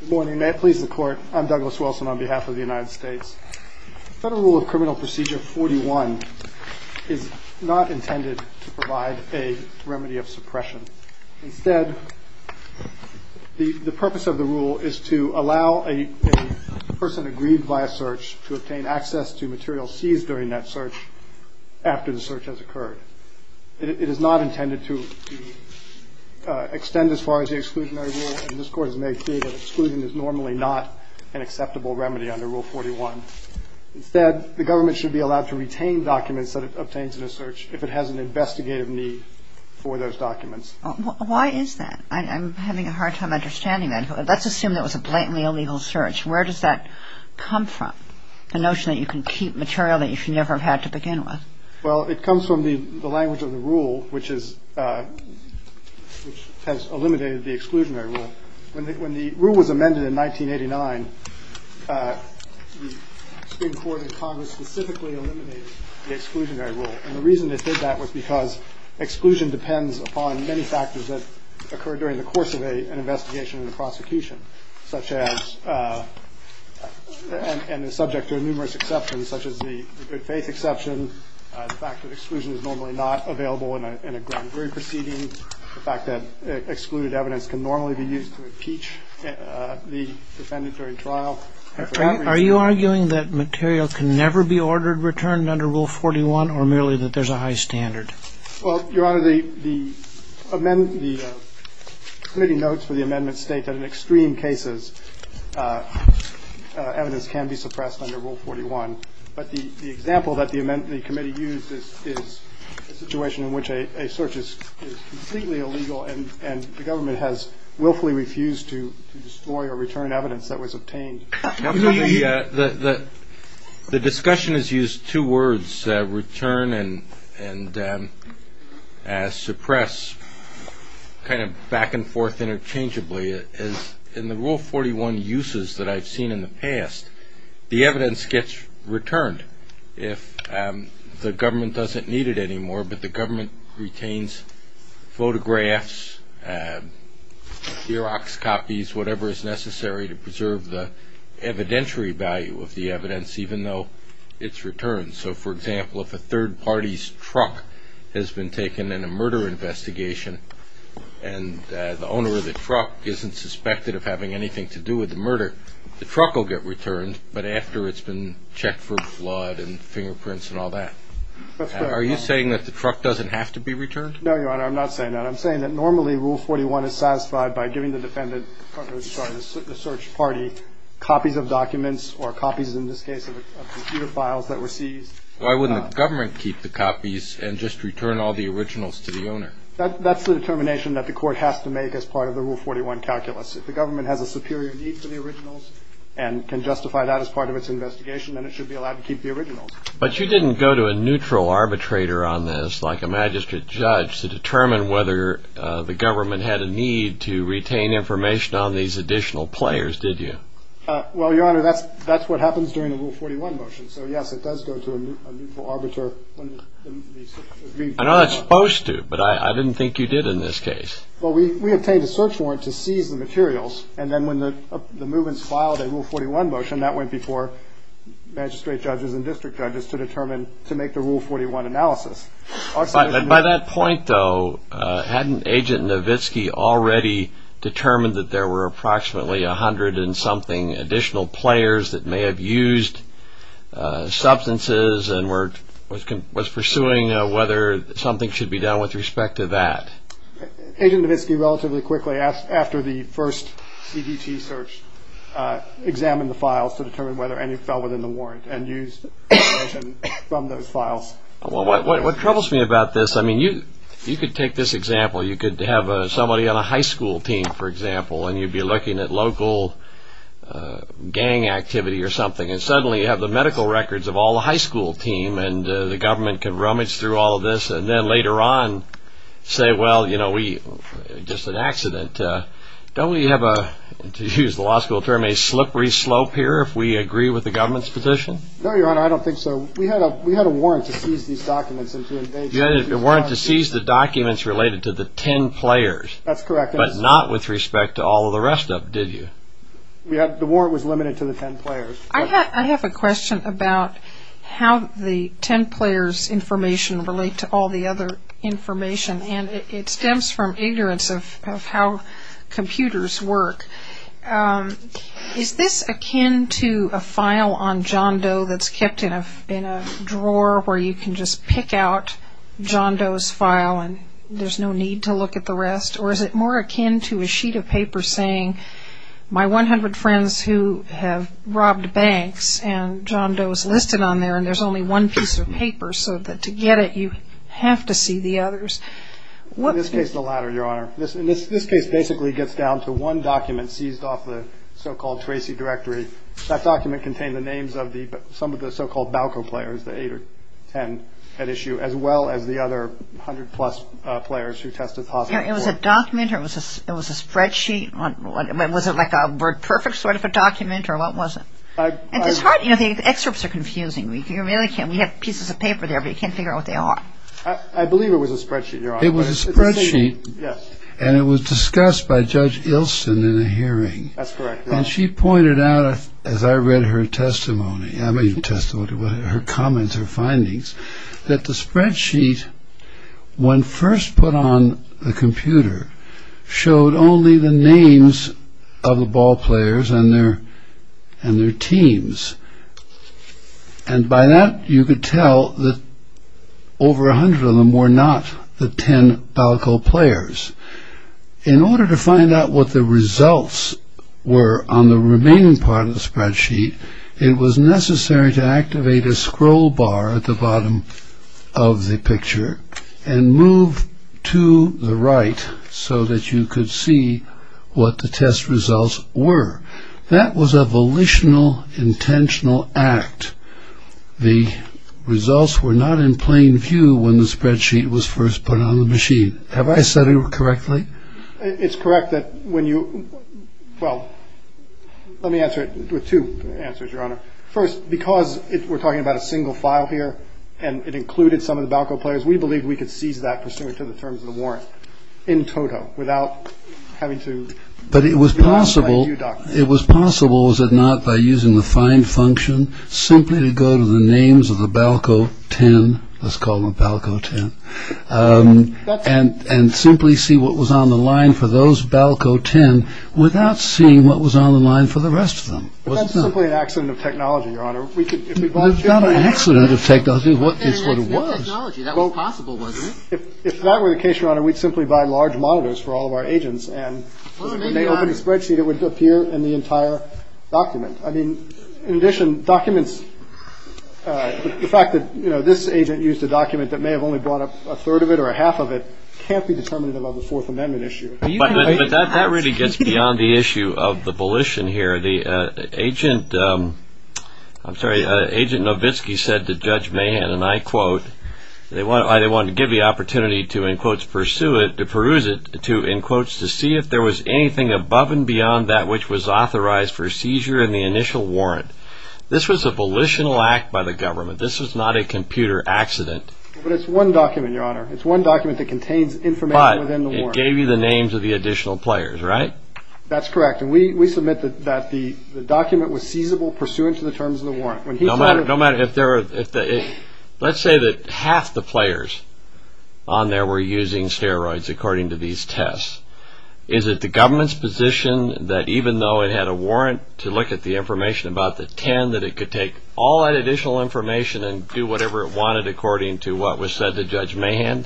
Good morning. May I please report? I'm Douglas Wilson on behalf of the United States. Federal Rule of Criminal Procedure 41 is not intended to provide a remedy of suppression. Instead, the purpose of the rule is to allow a person aggrieved by a search to obtain access to materials seized during that search after the search has occurred. It is not intended to extend as far as the exclusionary rule. And this Court has made clear that exclusion is normally not an acceptable remedy under Rule 41. Instead, the government should be allowed to retain documents that it obtains in a search if it has an investigative need for those documents. Why is that? I'm having a hard time understanding that. Let's assume that was a blatantly illegal search. Where does that come from, the notion that you can keep material that you should never have had to begin with? Well, it comes from the language of the rule, which has eliminated the exclusionary rule. When the rule was amended in 1989, the Supreme Court in Congress specifically eliminated the exclusionary rule. And the reason it did that was because exclusion depends upon many factors that occur during the course of an investigation and a prosecution, such as, and they're subject to numerous exceptions, such as the good faith exception, the fact that exclusion is normally not available in a grand jury proceeding, the fact that excluded evidence can normally be used to impeach the defendant during trial. Are you arguing that material can never be ordered returned under Rule 41, or merely that there's a high standard? Well, Your Honor, the committee notes for the amendment state that in extreme cases, evidence can be suppressed under Rule 41. But the example that the committee used is a situation in which a search is completely illegal and the government has willfully refused to restore or return evidence that was obtained. The discussion has used two words, return and suppress, kind of back and forth interchangeably. In the Rule 41 uses that I've seen in the past, the evidence gets returned if the government doesn't need it anymore, but the government retains photographs, Xerox copies, whatever is necessary to preserve the evidentiary value of the evidence, even though it's returned. So, for example, if a third party's truck has been taken in a murder investigation and the owner of the truck isn't suspected of having anything to do with the murder, the truck will get returned, but after it's been checked for blood and fingerprints and all that. Are you saying that the truck doesn't have to be returned? No, Your Honor, I'm not saying that. I'm saying that normally Rule 41 is satisfied by giving the defendant, the search party, copies of documents or copies, in this case, of computer files that were seized. Why wouldn't the government keep the copies and just return all the originals to the owner? That's the determination that the court has to make as part of the Rule 41 calculus. If the government has a superior need for the originals and can justify that as part of its investigation, then it should be allowed to keep the originals. But you didn't go to a neutral arbitrator on this, like a magistrate judge, to determine whether the government had a need to retain information on these additional players, did you? Well, Your Honor, that's what happens during a Rule 41 motion. So, yes, it does go to a neutral arbiter. I know it's supposed to, but I didn't think you did in this case. Well, we obtained a search warrant to seize the materials, and then when the movement filed a Rule 41 motion, that went before magistrate judges and district judges to determine, to make the Rule 41 analysis. And by that point, though, hadn't Agent Nowitzki already determined that there were approximately 100 and something additional players that may have used substances and was pursuing whether something should be done with respect to that? Agent Nowitzki relatively quickly, after the first EDT search, examined the files to determine whether any fell within the warrant and used information from those files. What troubles me about this, I mean, you could take this example, you could have somebody on a high school team, for example, and you'd be looking at local gang activity or something, and suddenly you have the medical records of all the high school team, and the government can rummage through all of this, and then later on say, well, you know, we, just an accident. Don't we have a, to use the law school term, a slippery slope here if we agree with the government's position? No, Your Honor, I don't think so. We had a warrant to seize these documents. You had a warrant to seize the documents related to the 10 players. That's correct. But not with respect to all of the rest of them, did you? The warrant was limited to the 10 players. I have a question about how the 10 players information relate to all the other information, and it stems from ignorance of how computers work. Is this akin to a file on John Doe that's kept in a drawer where you can just pick out John Doe's file and there's no need to look at the rest, or is it more akin to a sheet of paper saying my 100 friends who have robbed banks and John Doe's listed on there and there's only one piece of paper, so that to get it you have to see the others? In this case, the latter, Your Honor. This case basically gets down to one document seized off the so-called Tracy Directory. That document contained the names of some of the so-called BALCO players, the 8 or 10 at issue, as well as the other 100 plus players who tested positive. It was a document or it was a spreadsheet? Was it like a WordPerfect sort of a document or what was it? The excerpts are confusing. We have pieces of paper there, but you can't figure out what they are. I believe it was a spreadsheet, Your Honor. It was a spreadsheet. Yes. And it was discussed by Judge Ilsen in a hearing. That's correct, Your Honor. And she pointed out, as I read her testimony, her comments, her findings, that the spreadsheet, when first put on the computer, showed only the names of the BALCO players and their teams. And by that, you could tell that over 100 of them were not the 10 BALCO players. In order to find out what the results were on the remaining part of the spreadsheet, it was necessary to activate a scroll bar at the bottom of the picture and move to the right so that you could see what the test results were. That was a volitional, intentional act. The results were not in plain view when the spreadsheet was first put on the machine. Have I said it correctly? It's correct that when you – well, let me answer it with two answers, Your Honor. First, because we're talking about a single file here and it included some of the BALCO players, we believe we could seize that pursuant to the terms of the warrant in total without having to – But it was possible – it was possible, was it not, by using the find function, simply to go to the names of the BALCO 10, let's call them BALCO 10, and simply see what was on the line for those BALCO 10 without seeing what was on the line for the rest of them. But that's simply an accident of technology, Your Honor. We could – It's not an accident of technology. It's what it was. If that were the case, Your Honor, we'd simply buy large monitors for all of our agents and we may open a spreadsheet that would appear in the entire document. I mean, in addition, documents – the fact that, you know, this agent used a document that may have only brought up a third of it or a half of it can't be determined in a Level IV Amendment issue. But that really gets beyond the issue of the volition here. The agent – I'm sorry, Agent Novitski said to Judge Mahan, and I quote, they wanted to give the opportunity to, in quotes, pursue it, to peruse it, to, in quotes, to see if there was anything above and beyond that which was authorized for seizure in the initial warrant. This was a volitional act by the government. This was not a computer accident. But it's one document, Your Honor. It's one document that contains information within the warrant. But it gave you the names of the additional players, right? That's correct. And we submit that the document was feasible pursuant to the terms of the warrant. No matter if there are – let's say that half the players on there were using steroids, according to these tests. Is it the government's position that even though it had a warrant to look at the information about the 10, that it could take all that additional information and do whatever it wanted according to what was said to Judge Mahan?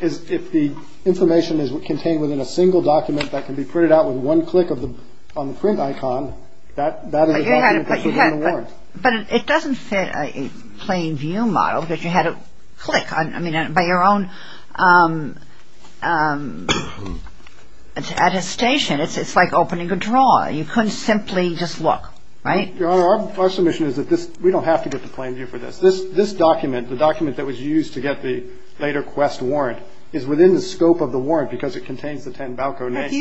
If the information is contained within a single document that can be printed out with one click on the print icon, that would have been considered a warrant. But it doesn't fit a plain view model that you had a click on. I mean, by your own attestation, it's like opening a drawer. You couldn't simply just look, right? Your Honor, our submission is that we don't have to get the plain view for this. This document, the document that was used to get the later quest warrant, is within the scope of the warrant because it contains the 10 BALCO names.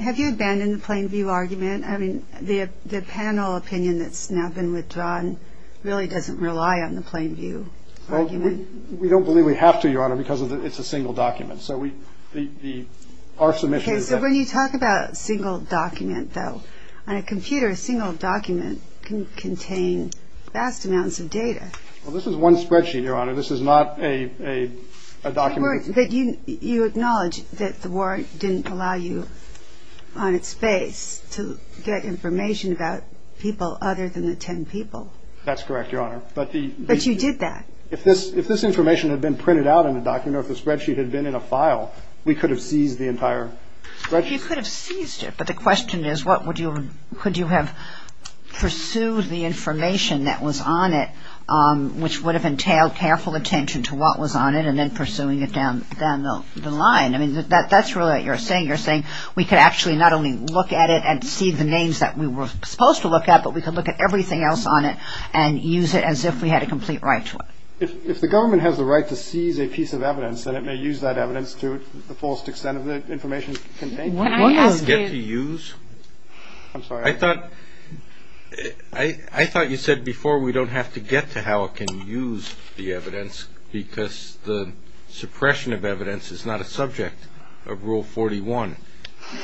Have you abandoned the plain view argument? I mean, the panel opinion that's now been withdrawn really doesn't rely on the plain view argument. We don't believe we have to, Your Honor, because it's a single document. When you talk about a single document, though, on a computer, a single document can contain vast amounts of data. Well, this is one spreadsheet, Your Honor. This is not a document. You acknowledge that the warrant didn't allow you, on its face, to get information about people other than the 10 people. That's correct, Your Honor. But you did that. If this information had been printed out in the document or if the spreadsheet had been in a file, we could have seized the entire spreadsheet. You could have seized it, but the question is, what would you have pursued the information that was on it, which would have entailed careful attention to what was on it and then pursuing it down the line? I mean, that's really what you're saying. You're saying we could actually not only look at it and see the names that we were supposed to look at, but we could look at everything else on it and use it as if we had a complete right to it. If the government has the right to seize a piece of evidence, then it may use that evidence to the fullest extent of the information contained. I thought you said before we don't have to get to how it can use the evidence because the suppression of evidence is not a subject of Rule 41.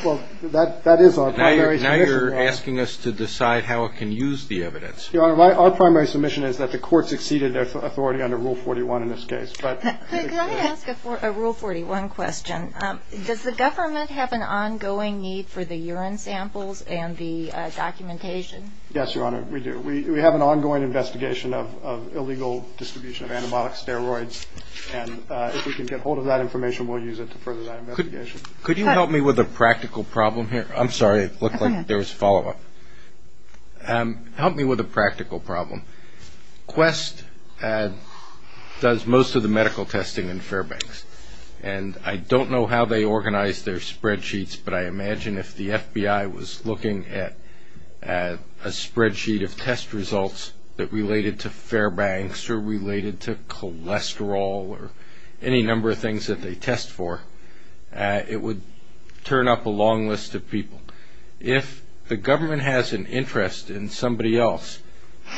Well, that is our primary submission. Now you're asking us to decide how it can use the evidence. Your Honor, our primary submission is that the court succeeded as authority under Rule 41 in this case. Can I ask a Rule 41 question? Does the government have an ongoing need for the urine samples and the documentation? Yes, Your Honor, we do. We have an ongoing investigation of illegal distribution of antibiotic steroids, and if we can get hold of that information, we'll use it to further that investigation. Could you help me with a practical problem here? I'm sorry, it looked like there was follow-up. Help me with a practical problem. Quest does most of the medical testing in Fairbanks, and I don't know how they organize their spreadsheets, but I imagine if the FBI was looking at a spreadsheet of test results that related to Fairbanks or related to cholesterol or any number of things that they test for, it would turn up a long list of people. If the government has an interest in somebody else,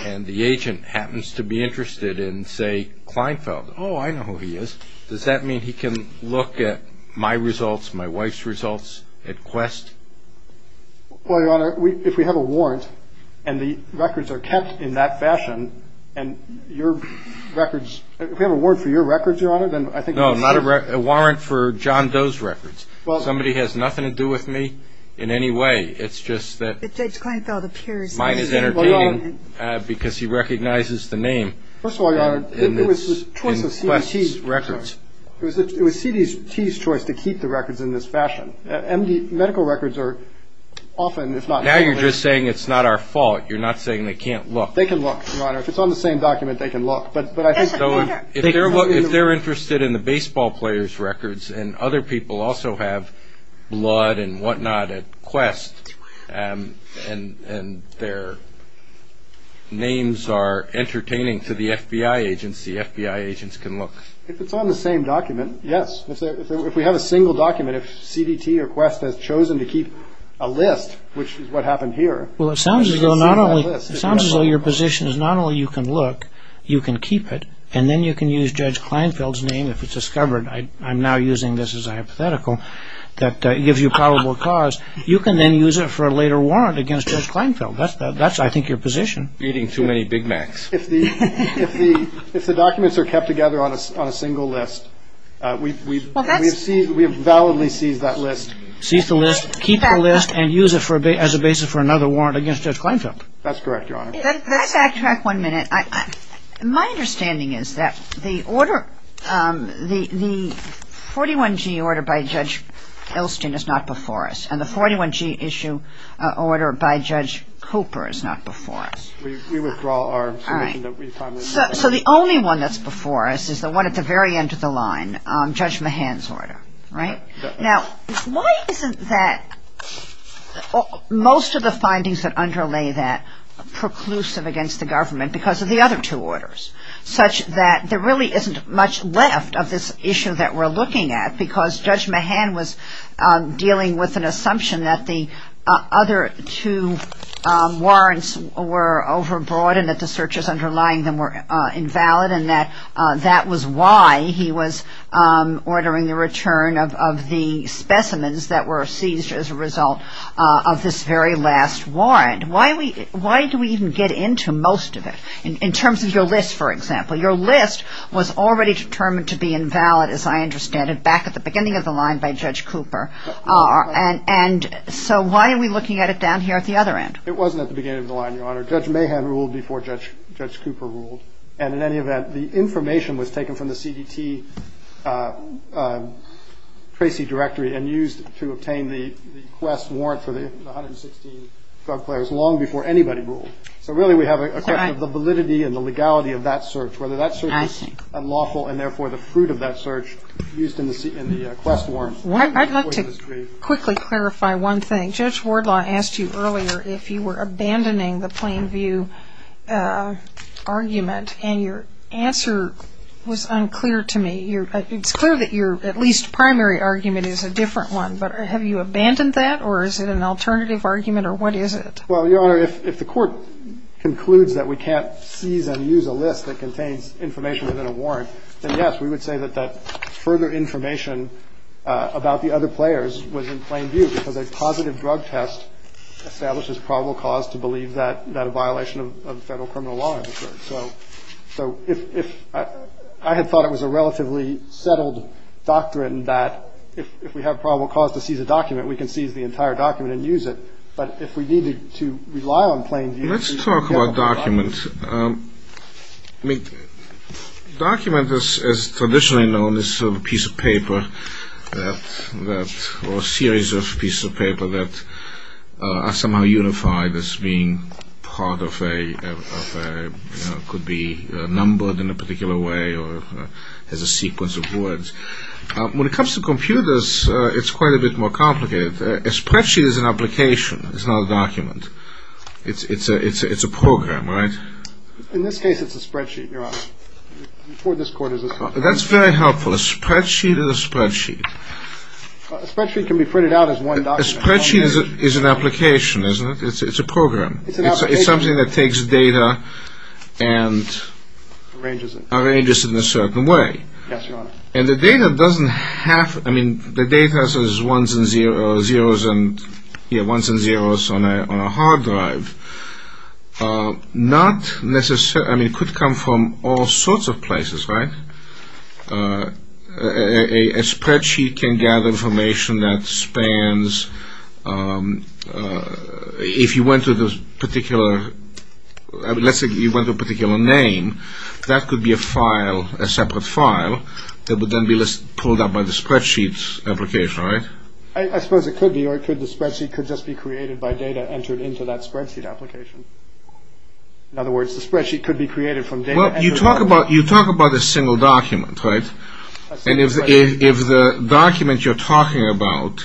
and the agent happens to be interested in, say, Kleinfeld, oh, I know who he is, does that mean he can look at my results, my wife's results at Quest? Well, Your Honor, if we have a warrant, and the records are kept in that fashion, and your records – if we have a warrant for your records, Your Honor, then I think – Well, somebody has nothing to do with me in any way. It's just that mine is entertaining because he recognizes the name in Quest's records. It was CDT's choice to keep the records in this fashion. Medical records are often, if not – Now you're just saying it's not our fault. You're not saying they can't look. They can look, Your Honor. If it's on the same document, they can look. If they're interested in the baseball players' records, and other people also have blood and whatnot at Quest, and their names are entertaining to the FBI agents, the FBI agents can look. If it's on the same document, yes. If we have a single document, if CDT or Quest has chosen to keep a list, which is what happened here – Well, it sounds as though your position is not only you can look, you can keep it, and then you can use Judge Kleinfeld's name if it's discovered. I'm now using this as a hypothetical that gives you probable cause. You can then use it for a later warrant against Judge Kleinfeld. That's, I think, your position. Feeding too many Big Macs. If the documents are kept together on a single list, we've validly seized that list. Seize the list, keep the list, and use it as a basis for another warrant against Judge Kleinfeld. That's correct, Your Honor. If I could backtrack one minute. My understanding is that the 41-G order by Judge Elston is not before us, and the 41-G issue order by Judge Cooper is not before us. We withdraw our information that we found. So the only one that's before us is the one at the very end of the line, Judge Mahan's order, right? Now, why isn't that, most of the findings that underlay that, preclusive against the government because of the other two orders, such that there really isn't much left of this issue that we're looking at because Judge Mahan was dealing with an assumption that the other two warrants were overbroad and that the searches underlying them were invalid, rather than that that was why he was ordering the return of the specimens that were seized as a result of this very last warrant. Why do we even get into most of it, in terms of your list, for example? Your list was already determined to be invalid, as I understand it, back at the beginning of the line by Judge Cooper. And so why are we looking at it down here at the other end? It wasn't at the beginning of the line, Your Honor. Judge Mahan ruled before Judge Cooper ruled. And in any event, the information was taken from the CDT Tracy directory and used to obtain the quest warrant for the 116 drug players long before anybody ruled. So really we have a question of the validity and the legality of that search, whether that search was unlawful and therefore the fruit of that search used in the quest warrant. I'd like to quickly clarify one thing. Judge Wardlaw asked you earlier if you were abandoning the plain view argument, and your answer was unclear to me. It's clear that your at least primary argument is a different one. But have you abandoned that, or is it an alternative argument, or what is it? Well, Your Honor, if the court concludes that we can't seize and use a list that contains information within a warrant, then, yes, we would say that that further information about the other players was in plain view because a positive drug test establishes probable cause to believe that a violation of federal criminal law has occurred. So I had thought it was a relatively settled doctrine that if we have probable cause to seize a document, we can seize the entire document and use it. But if we needed to rely on plain view to seize a document. Let's talk about documents. Documents, as traditionally known, is a piece of paper or a series of pieces of paper that are somehow unified as being part of a, could be numbered in a particular way or as a sequence of words. When it comes to computers, it's quite a bit more complicated, especially as an application. It's not a document. It's a program, right? In this case, it's a spreadsheet, Your Honor. Before this court, it's a spreadsheet. That's very helpful. A spreadsheet is a spreadsheet. A spreadsheet can be printed out as one document. A spreadsheet is an application, isn't it? It's a program. It's an application. It's something that takes data and… Arranges it. Arranges it in a certain way. Yes, Your Honor. And the data doesn't have, I mean, the data says ones and zeros on a hard drive. Not necessarily, I mean, it could come from all sorts of places, right? A spreadsheet can gather information that spans, if you went to this particular, let's say you went to a particular name, that could be a file, a separate file that would then be pulled up by the spreadsheet application, right? I suppose it could be, Your Honor. The spreadsheet could just be created by data entered into that spreadsheet application. In other words, the spreadsheet could be created from data… Well, you talk about a single document, right? And if the document you're talking about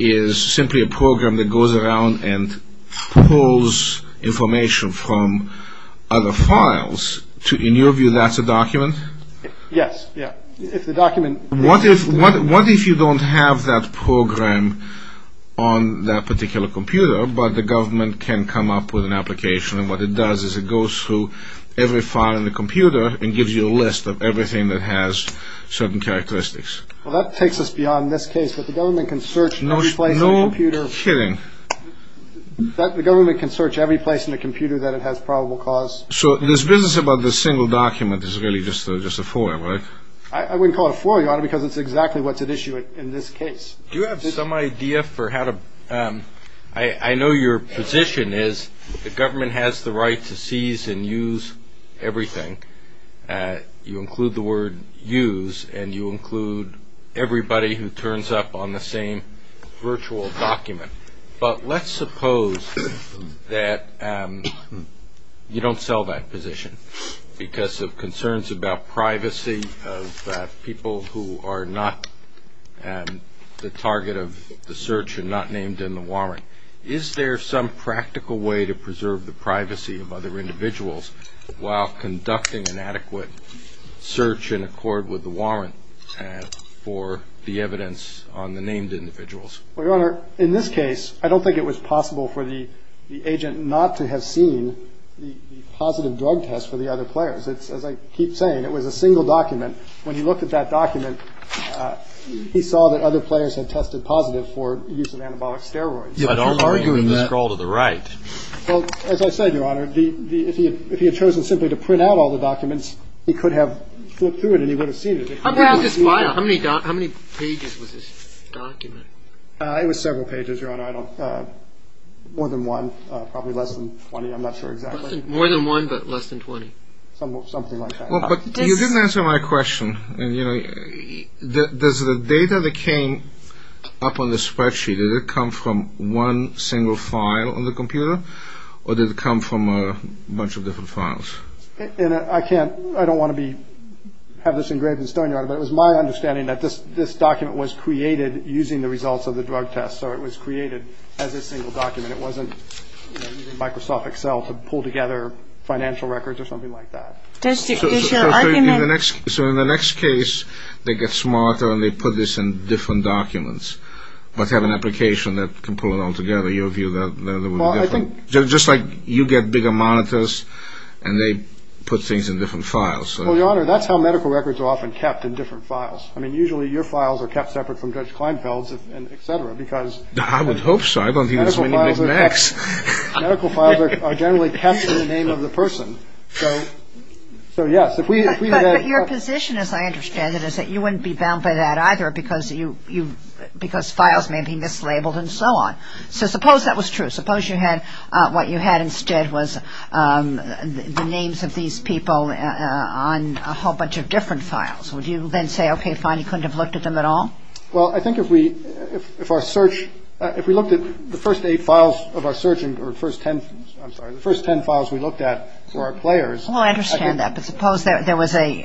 is simply a program that goes around and pulls information from other files, in your view, that's a document? Yes. If the document… What if you don't have that program on that particular computer, but the government can come up with an application, and what it does is it goes through every file on the computer and gives you a list of everything that has certain characteristics. Well, that takes us beyond this case, but the government can search every place on the computer… No kidding. The government can search every place on the computer that it has probable cause. So this business about the single document is really just a foil, right? I wouldn't call it a foil, Your Honor, because it's exactly what's at issue in this case. Do you have some idea for how to… I know your position is the government has the right to seize and use everything. You include the word use, and you include everybody who turns up on the same virtual document. But let's suppose that you don't sell that position because of concerns about privacy of people who are not the target of the search and not named in the warrant. Is there some practical way to preserve the privacy of other individuals while conducting an adequate search in accord with the warrant for the evidence on the named individuals? Well, Your Honor, in this case, I don't think it was possible for the agent not to have seen the positive drug test for the other players. As I keep saying, it was a single document. When he looked at that document, he saw that other players had tested positive for use of antibiotic steroids. I don't agree with that. Well, as I said, Your Honor, if he had chosen simply to print out all the documents, he could have flipped through it, and he would have seen it. How many pages was this document? It was several pages, Your Honor. More than one. Probably less than 20. I'm not sure exactly. More than one, but less than 20. Something like that. You didn't answer my question. Does the data that came up on the spreadsheet, did it come from one single file on the computer, or did it come from a bunch of different files? I don't want to have this engraved in stone, Your Honor, but it was my understanding that this document was created using the results of the drug test, so it was created as a single document. It wasn't Microsoft Excel to pull together financial records or something like that. So in the next case, they get smarter and they put this in different documents, like have an application that can pull it all together. Just like you get bigger monitors, and they put things in different files. Well, Your Honor, that's how medical records are often kept, in different files. I mean, usually your files are kept separate from Judge Kleinfeld's, et cetera, because medical files are generally kept in the name of the person. But your position, as I understand it, is that you wouldn't be bound by that either because files may be mislabeled and so on. So suppose that was true. Suppose what you had instead was the names of these people on a whole bunch of different files. Would you then say, OK, fine, you couldn't have looked at them at all? Well, I think if our search, if we looked at the first eight files of our search, or the first ten, I'm sorry, the first ten files we looked at for our players. Well, I understand that, but suppose there was a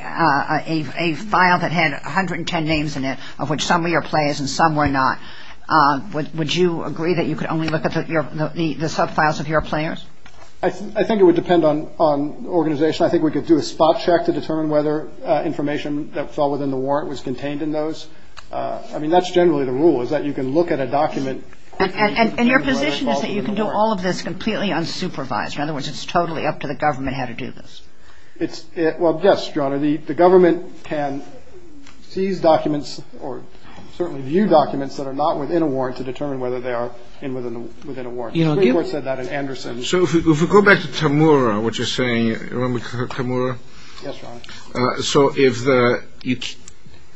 file that had 110 names in it, of which some were your players and some were not. Would you agree that you could only look at the sub-files of your players? I think it would depend on the organization. I think we could do a spot check to determine whether information that fell within the warrant was contained in those. I mean, that's generally the rule, is that you can look at a document. And your position is that you can do all of this completely unsupervised. In other words, it's totally up to the government how to do this. Well, yes, Your Honor, the government can seize documents or certainly view documents that are not within a warrant to determine whether they are within a warrant. So, if we go back to Tamura, what you're saying, you remember Tamura? Yes, Your Honor. So,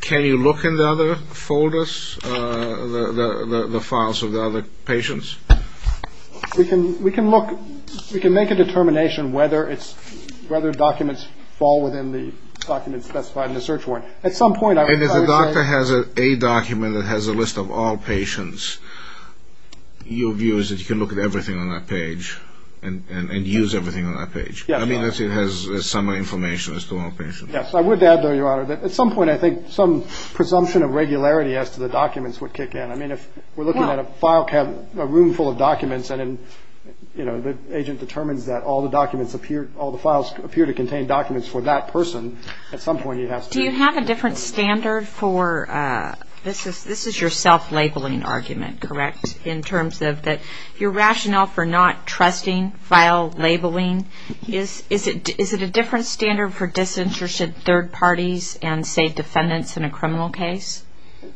can you look in the other folders, the files of the other patients? We can look, we can make a determination whether documents fall within the documents specified in the search warrant. And if the doctor has a document that has a list of all patients, your view is that you can look at everything on that page and use everything on that page? Yes. I mean, unless it has some information as to all patients. I would add, though, Your Honor, that at some point, I think some presumption of regularity as to the documents would kick in. I mean, if we're looking at a file cabinet, a room full of documents, and then, you know, the agent determines that all the documents appear, all the files appear to contain documents for that person, at some point he has to- Do you have a different standard for-this is your self-labeling argument, correct? In terms of your rationale for not trusting file labeling. Is it a different standard for disinterested third parties and, say, defendants in a criminal case?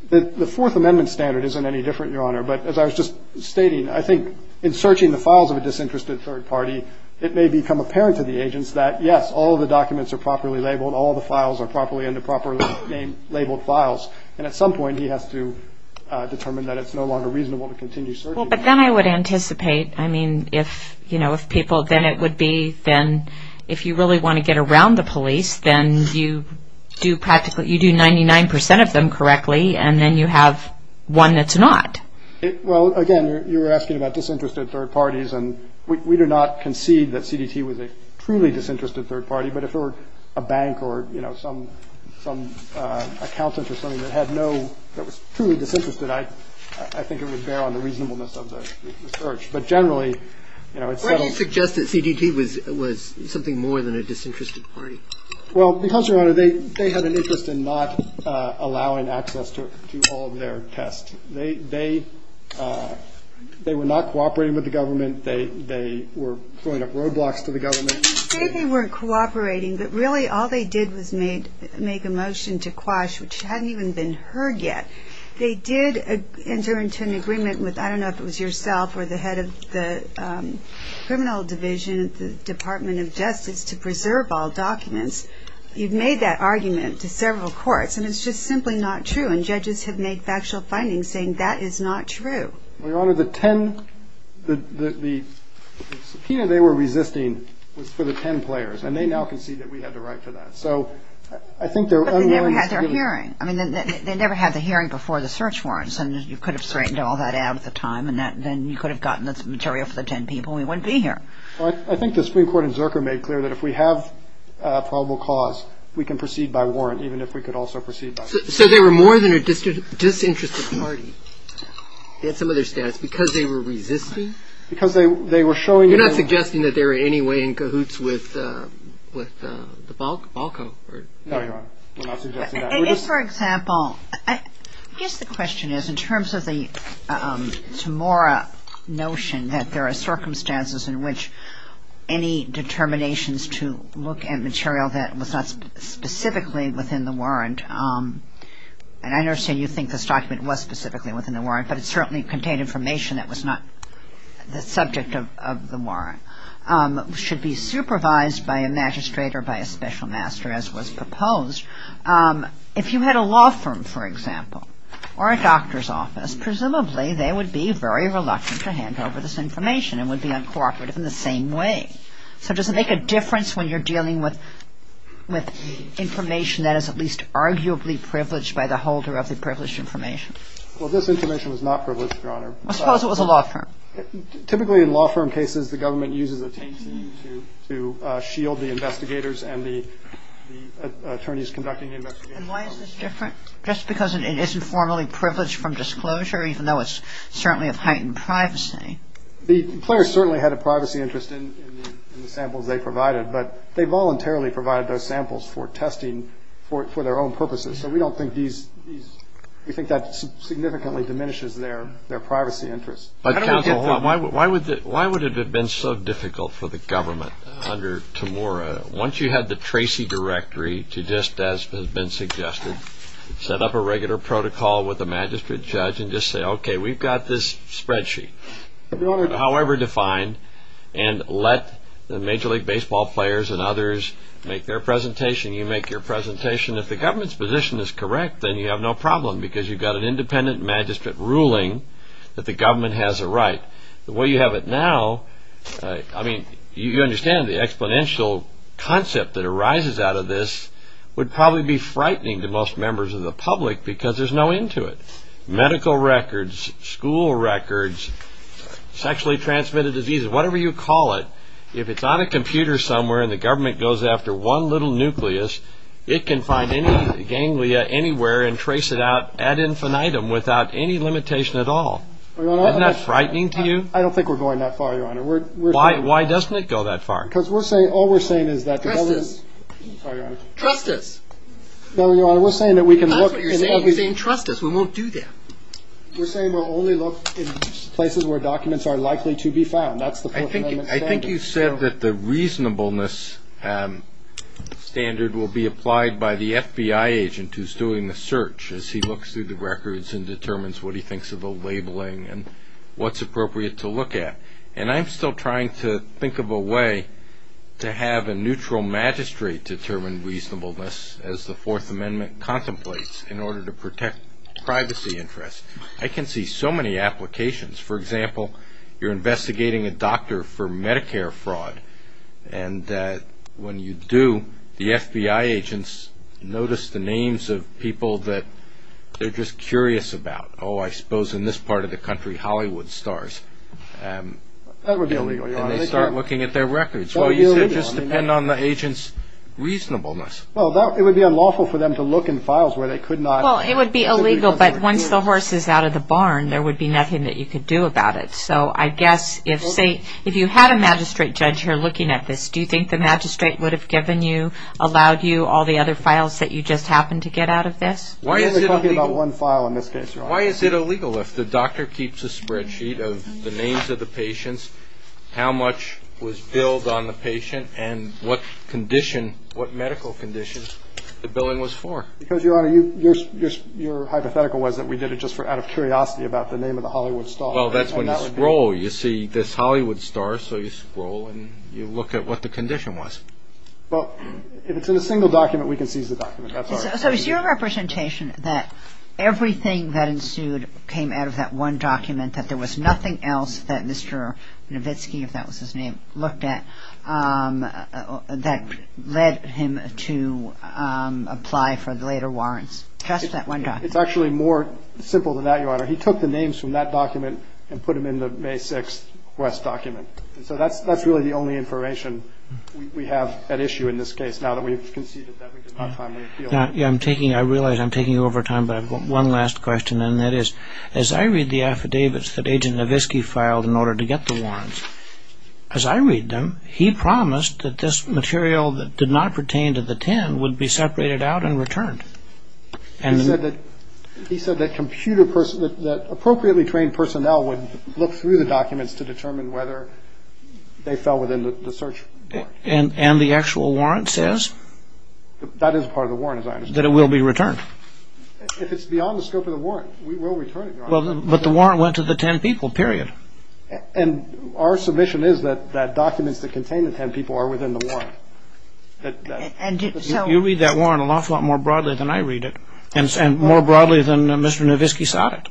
The Fourth Amendment standard isn't any different, Your Honor. But as I was just stating, I think in searching the files of a disinterested third party, it may become apparent to the agents that, yes, all the documents are properly labeled, all the files are properly in the properly labeled files, and at some point he has to determine that it's no longer reasonable to continue searching. Well, but then I would anticipate, I mean, if, you know, if people-then it would be-then if you really want to get around the police, then you do practically-you do 99 percent of them correctly, and then you have one that's not. Well, again, you're asking about disinterested third parties, and we do not concede that CDT was a truly disinterested third party, but if it were a bank or, you know, some accountant or something that had no-that was truly disinterested, I think it would bear on the reasonableness of the search. But generally, you know- Why do you suggest that CDT was something more than a disinterested party? Well, because, Your Honor, they had an interest in not allowing access to all of their tests. They were not cooperating with the government. They were throwing up roadblocks to the government. You say they weren't cooperating, but really all they did was make a motion to quash, which hadn't even been heard yet. They did enter into an agreement with-I don't know if it was yourself or the head of the criminal division, the Department of Justice, to preserve all documents. You've made that argument to several courts, and it's just simply not true, and judges have made factual findings saying that is not true. Well, Your Honor, the 10-the key they were resisting was for the 10 players, and they now concede that we had the right to that. So I think there- But they never had their hearing. I mean, they never had the hearing before the search warrants, and you could have straightened all that out at the time, and then you could have gotten the material for the 10 people, and we wouldn't be here. I think the Supreme Court in Zerker made clear that if we have probable cause, we can proceed by warrant, even if we could also proceed by- So they were more than a disinterested party in some of their status because they were resisting? Because they were showing- You're not suggesting that they were in any way in cahoots with the Balko? No, Your Honor. I'm not suggesting that. If, for example-I guess the question is in terms of the Tamora notion that there are circumstances in which any determinations to look at material that was not specifically within the warrant, and I understand you think this document was specifically within the warrant, but it certainly contained information that was not the subject of the warrant, should be supervised by a magistrate or by a special master, as was proposed. If you had a law firm, for example, or a doctor's office, presumably they would be very reluctant to hand over this information and would be uncooperative in the same way. So does it make a difference when you're dealing with information that is at least arguably privileged by the holder of the privileged information? Well, this information was not privileged, Your Honor. Suppose it was a law firm? Typically in law firm cases, the government uses a taint to shield the investigators and the attorneys conducting the investigation. And why is this different? Just because it isn't formally privileged from disclosure, even though it's certainly a heightened privacy? The plaintiffs certainly had a privacy interest in the samples they provided, but they voluntarily provided those samples for testing for their own purposes. So we don't think that significantly diminishes their privacy interests. But counsel, why would it have been so difficult for the government under Tamora? Once you had the Tracy Directory to just, as has been suggested, set up a regular protocol with a magistrate judge and just say, okay, we've got this spreadsheet, however defined, and let the Major League Baseball players and others make their presentation. You make your presentation. If the government's position is correct, then you have no problem because you've got an independent magistrate ruling that the government has a right. The way you have it now, I mean, you understand the exponential concept that arises out of this would probably be frightening to most members of the public because there's no end to it. Medical records, school records, sexually transmitted diseases, whatever you call it, if it's on a computer somewhere and the government goes after one little nucleus, it can find any ganglia anywhere and trace it out ad infinitum without any limitation at all. Isn't that frightening to you? I don't think we're going that far, Your Honor. Why doesn't it go that far? Because all we're saying is that the government's Trust us. Sorry, Your Honor. Trust us. No, Your Honor, we're saying that we can look and Trust us. We won't do that. We're saying we'll only look in places where documents are likely to be found. That's the Fourth Amendment standard. I think you said that the reasonableness standard will be applied by the FBI agent who's doing the search as he looks through the records and determines what he thinks of the labeling and what's appropriate to look at. And I'm still trying to think of a way to have a neutral magistrate determine reasonableness as the Fourth Amendment contemplates in order to protect privacy interests. I can see so many applications. For example, you're investigating a doctor for Medicare fraud, and when you do, the FBI agents notice the names of people that they're just curious about. Oh, I suppose in this part of the country, Hollywood stars. And they start looking at their records. Well, it would just depend on the agent's reasonableness. Well, it would be unlawful for them to look in files where they could not. Well, it would be illegal, but once the horse is out of the barn, there would be nothing that you could do about it. So I guess if you had a magistrate judge here looking at this, do you think the magistrate would have given you, allowed you all the other files that you just happened to get out of this? We're only talking about one file in this case, Your Honor. Why is it illegal if the doctor keeps a spreadsheet of the names of the patients, how much was billed on the patient, and what condition, what medical conditions the billing was for? Because, Your Honor, your hypothetical was that we did it just out of curiosity about the name of the Hollywood star. Well, that's when you scroll. You see this Hollywood star, so you scroll and you look at what the condition was. Well, if it's in a single document, we can choose the document. So it's your representation that everything that ensued came out of that one document, that there was nothing else that Mr. Novitsky, if that was his name, looked at that led him to apply for the later warrants? Just that one document. It's actually more simple than that, Your Honor. He took the names from that document and put them in the May 6th West document. So that's really the only information we have at issue in this case, now that we've conceded that we did not timely appeal. I realize I'm taking over time, but I've got one last question, and that is, as I read the affidavits that Agent Novitsky filed in order to get the warrants, as I read them, he promised that this material that did not pertain to the 10 would be separated out and returned. He said that appropriately trained personnel would look through the documents to determine whether they fell within the search warrant. And the actual warrant says? That is part of the warrant, as I understand it. That it will be returned. If it's beyond the scope of the warrant, we will return it, Your Honor. But the warrant went to the 10 people, period. And our submission is that documents that contain the 10 people are within the warrant. You read that warrant an awful lot more broadly than I read it, and more broadly than Mr. Novitsky saw it.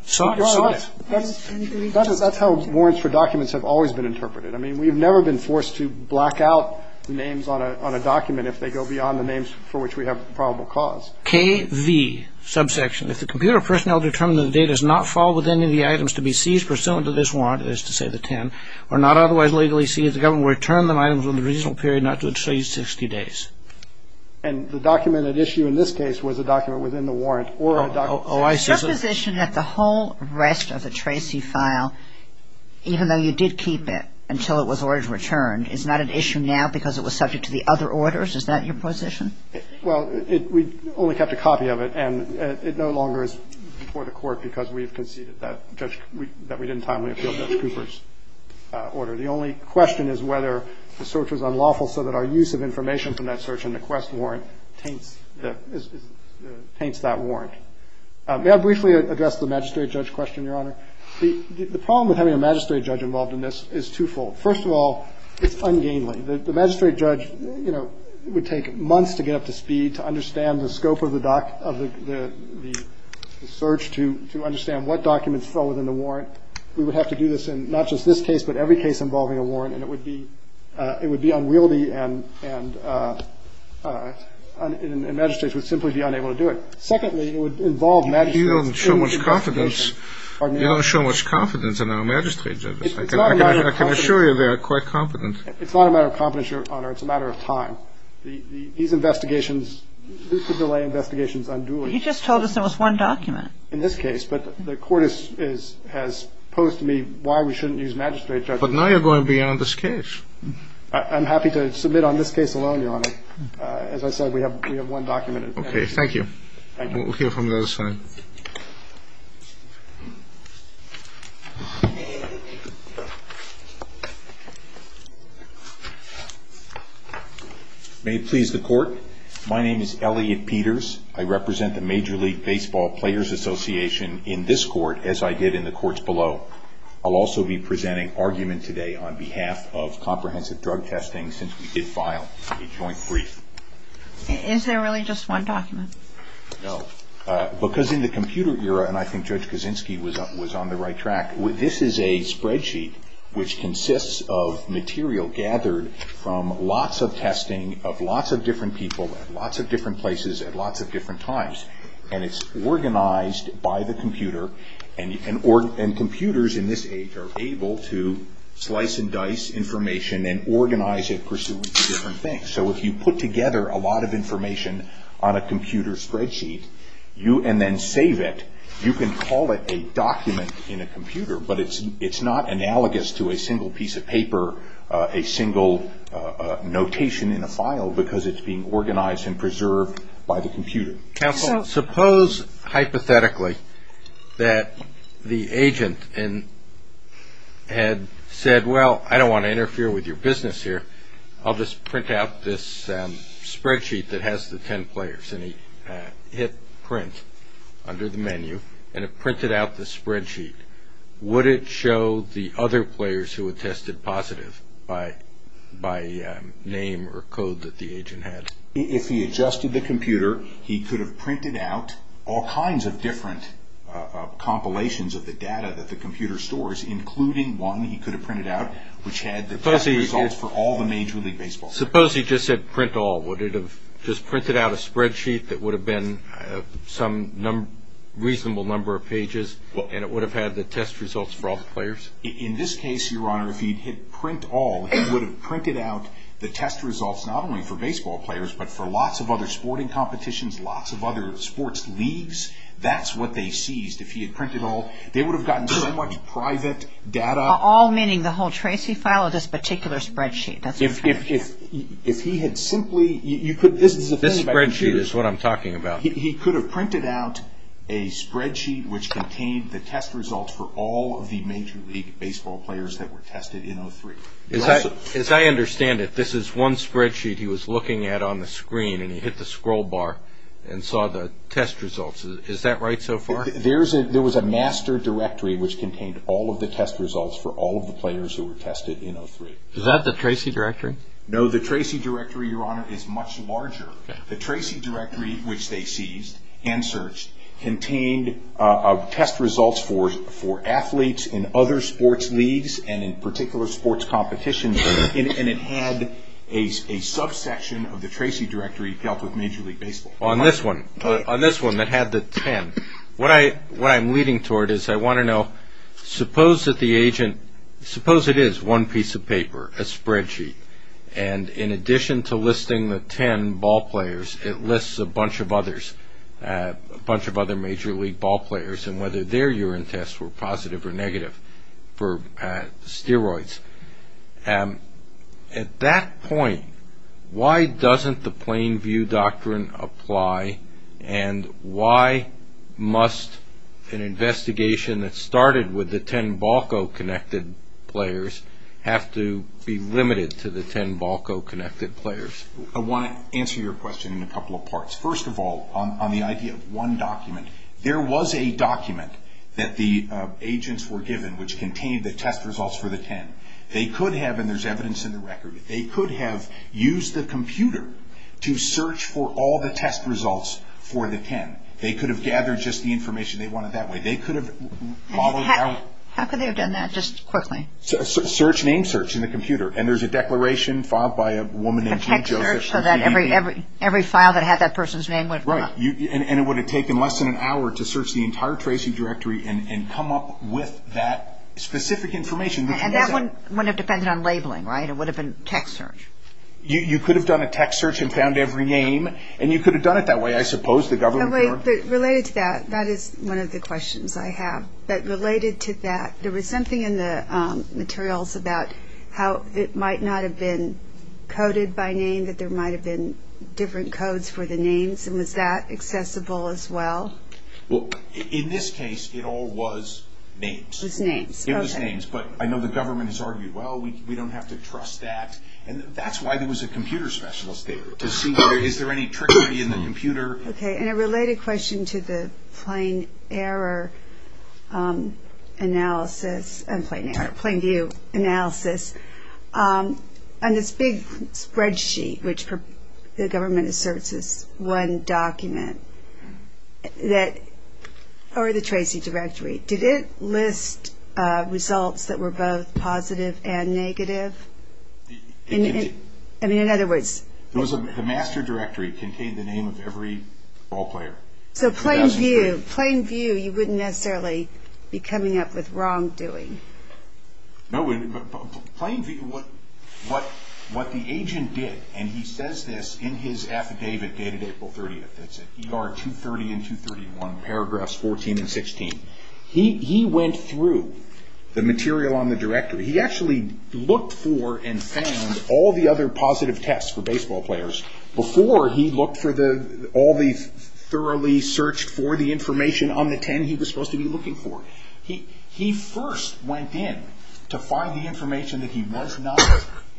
That's how warrants for documents have always been interpreted. I mean, we've never been forced to block out names on a document if they go beyond the names for which we have probable cause. KV, subsection. If the computer personnel determine that the data does not fall within any of the items to be seized pursuant to this warrant, or not otherwise legally seized, the government will return the items within a reasonable period not to exceed 60 days. And the document at issue in this case was a document within the warrant or a document? Your position is that the whole rest of the Tracy file, even though you did keep it until it was ordered to return, is not an issue now because it was subject to the other orders? Is that your position? Well, we only kept a copy of it, and it no longer is before the court because we conceded that we didn't timely appeal Judge Cooper's order. The only question is whether the search was unlawful so that our use of information from that search and the quest warrant paints that warrant. May I briefly address the magistrate judge question, Your Honor? The problem with having a magistrate judge involved in this is twofold. First of all, it's ungainly. The magistrate judge would take months to get up to speed, to understand the scope of the search, to understand what documents fell within the warrant. We would have to do this in not just this case but every case involving a warrant, and it would be unwieldy and magistrates would simply be unable to do it. Secondly, it would involve magistrates. You don't show much confidence in our magistrate judges. I can assure you they are quite competent. It's not a matter of competence, Your Honor. It's a matter of time. These investigations, this is the way investigations are done. You just told us there was one document. In this case, but the court has posed to me why we shouldn't use magistrate judges. But now you're going beyond this case. I'm happy to submit on this case alone, Your Honor. As I said, we have one document. Okay, thank you. Thank you. We'll hear from the other side. May it please the court. My name is Elliot Peters. I represent the Major League Baseball Players Association in this court, as I did in the courts below. I'll also be presenting argument today on behalf of comprehensive drug testing since we did file a joint brief. Is there really just one document? No. Because in the computer era, and I think Judge Kaczynski was on the right track, this is a spreadsheet which consists of material gathered from lots of testing of lots of different people at lots of different places at lots of different times. And it's organized by the computer. And computers in this age are able to slice and dice information and organize it for some different things. So if you put together a lot of information on a computer spreadsheet and then save it, you can call it a document in a computer, but it's not analogous to a single piece of paper, a single notation in a file, because it's being organized and preserved by the computer. Counsel, suppose hypothetically that the agent had said, well, I don't want to interfere with your business here. I'll just print out this spreadsheet that has the ten players. And he hit print under the menu, and it printed out the spreadsheet. Would it show the other players who had tested positive by name or code that the agent had? If he adjusted the computer, he could have printed out all kinds of different compilations of the data that the computer stores, including one he could have printed out, which had the test results for all the major league baseball players. Suppose he just said print all. Would it have just printed out a spreadsheet that would have been some reasonable number of pages, and it would have had the test results for all the players? In this case, Your Honor, if he had hit print all, he would have printed out the test results not only for baseball players, but for lots of other sporting competitions, lots of other sports leagues. That's what they seized. If he had printed all, they would have gotten so much private data. All, meaning the whole tracy file of this particular spreadsheet. If he had simply – this spreadsheet is what I'm talking about. He could have printed out a spreadsheet which contained the test results for all of the major league baseball players that were tested in 03. As I understand it, this is one spreadsheet he was looking at on the screen, and he hit the scroll bar and saw the test results. Is that right so far? There was a master directory which contained all of the test results for all of the players who were tested in 03. Is that the tracy directory? No, the tracy directory, Your Honor, is much larger. The tracy directory, which they seized and searched, contained test results for athletes in other sports leagues and in particular sports competitions, and it had a subsection of the tracy directory dealt with major league baseball. On this one, on this one that had the 10, what I'm leading toward is I want to know, suppose that the agent – suppose it is one piece of paper, a spreadsheet, and in addition to listing the 10 ballplayers, it lists a bunch of others, a bunch of other major league ballplayers and whether their urine tests were positive or negative for steroids. At that point, why doesn't the plain view doctrine apply, and why must an investigation that started with the 10 BALCO-connected players have to be limited to the 10 BALCO-connected players? I want to answer your question in a couple of parts. First of all, on the idea of one document, there was a document that the agents were given which contained the test results for the 10. They could have, and there's evidence in the record, they could have used the computer to search for all the test results for the 10. They could have gathered just the information they wanted that way. They could have followed it out. How could they have done that just quickly? Search, name search in the computer, and there's a declaration filed by a woman. A text search so that every file that had that person's name would… Right, and it would have taken less than an hour to search the entire tracing directory and come up with that specific information. And that wouldn't have depended on labeling, right? It would have been text search. You could have done a text search and found every name, and you could have done it that way, I suppose. Related to that, that is one of the questions I have. But related to that, there was something in the materials about how it might not have been coded by name, that there might have been different codes for the names, and was that accessible as well? Well, in this case, it all was names. It was names, okay. It was names, but I know the government has argued, well, we don't have to trust that, and that's why there was a computer specialist there to see, is there any trickery in the computer? Okay, and a related question to the plain error analysis, plain view analysis, on this big spreadsheet, which the government asserts is one document, or the tracing directory, did it list results that were both positive and negative? I mean, in other words. The master directory contained the name of every ball player. So, plain view, plain view, you wouldn't necessarily be coming up with wrongdoing. No, but plain view, what the agent did, and he says this in his affidavit dated April 30th, it's in ER 230 and 231, paragraphs 14 and 16. He went through the material on the directory. He actually looked for and found all the other positive tests for baseball players before he looked for all the thoroughly searched for the information on the pen he was supposed to be looking for. He first went in to find the information that he was not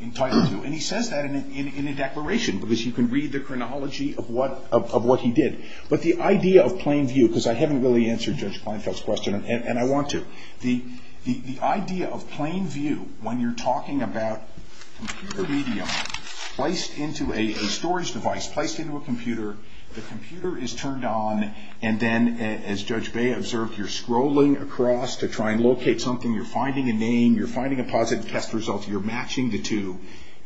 entitled to, and he says that in a declaration, because you can read the chronology of what he did. But the idea of plain view, because I haven't really answered Judge Kleinfeld's question, and I want to, The idea of plain view, when you're talking about computer media placed into a storage device, placed into a computer, the computer is turned on, and then, as Judge Bea observed, you're scrolling across to try and locate something, you're finding a name, you're finding a positive test result, you're matching the two.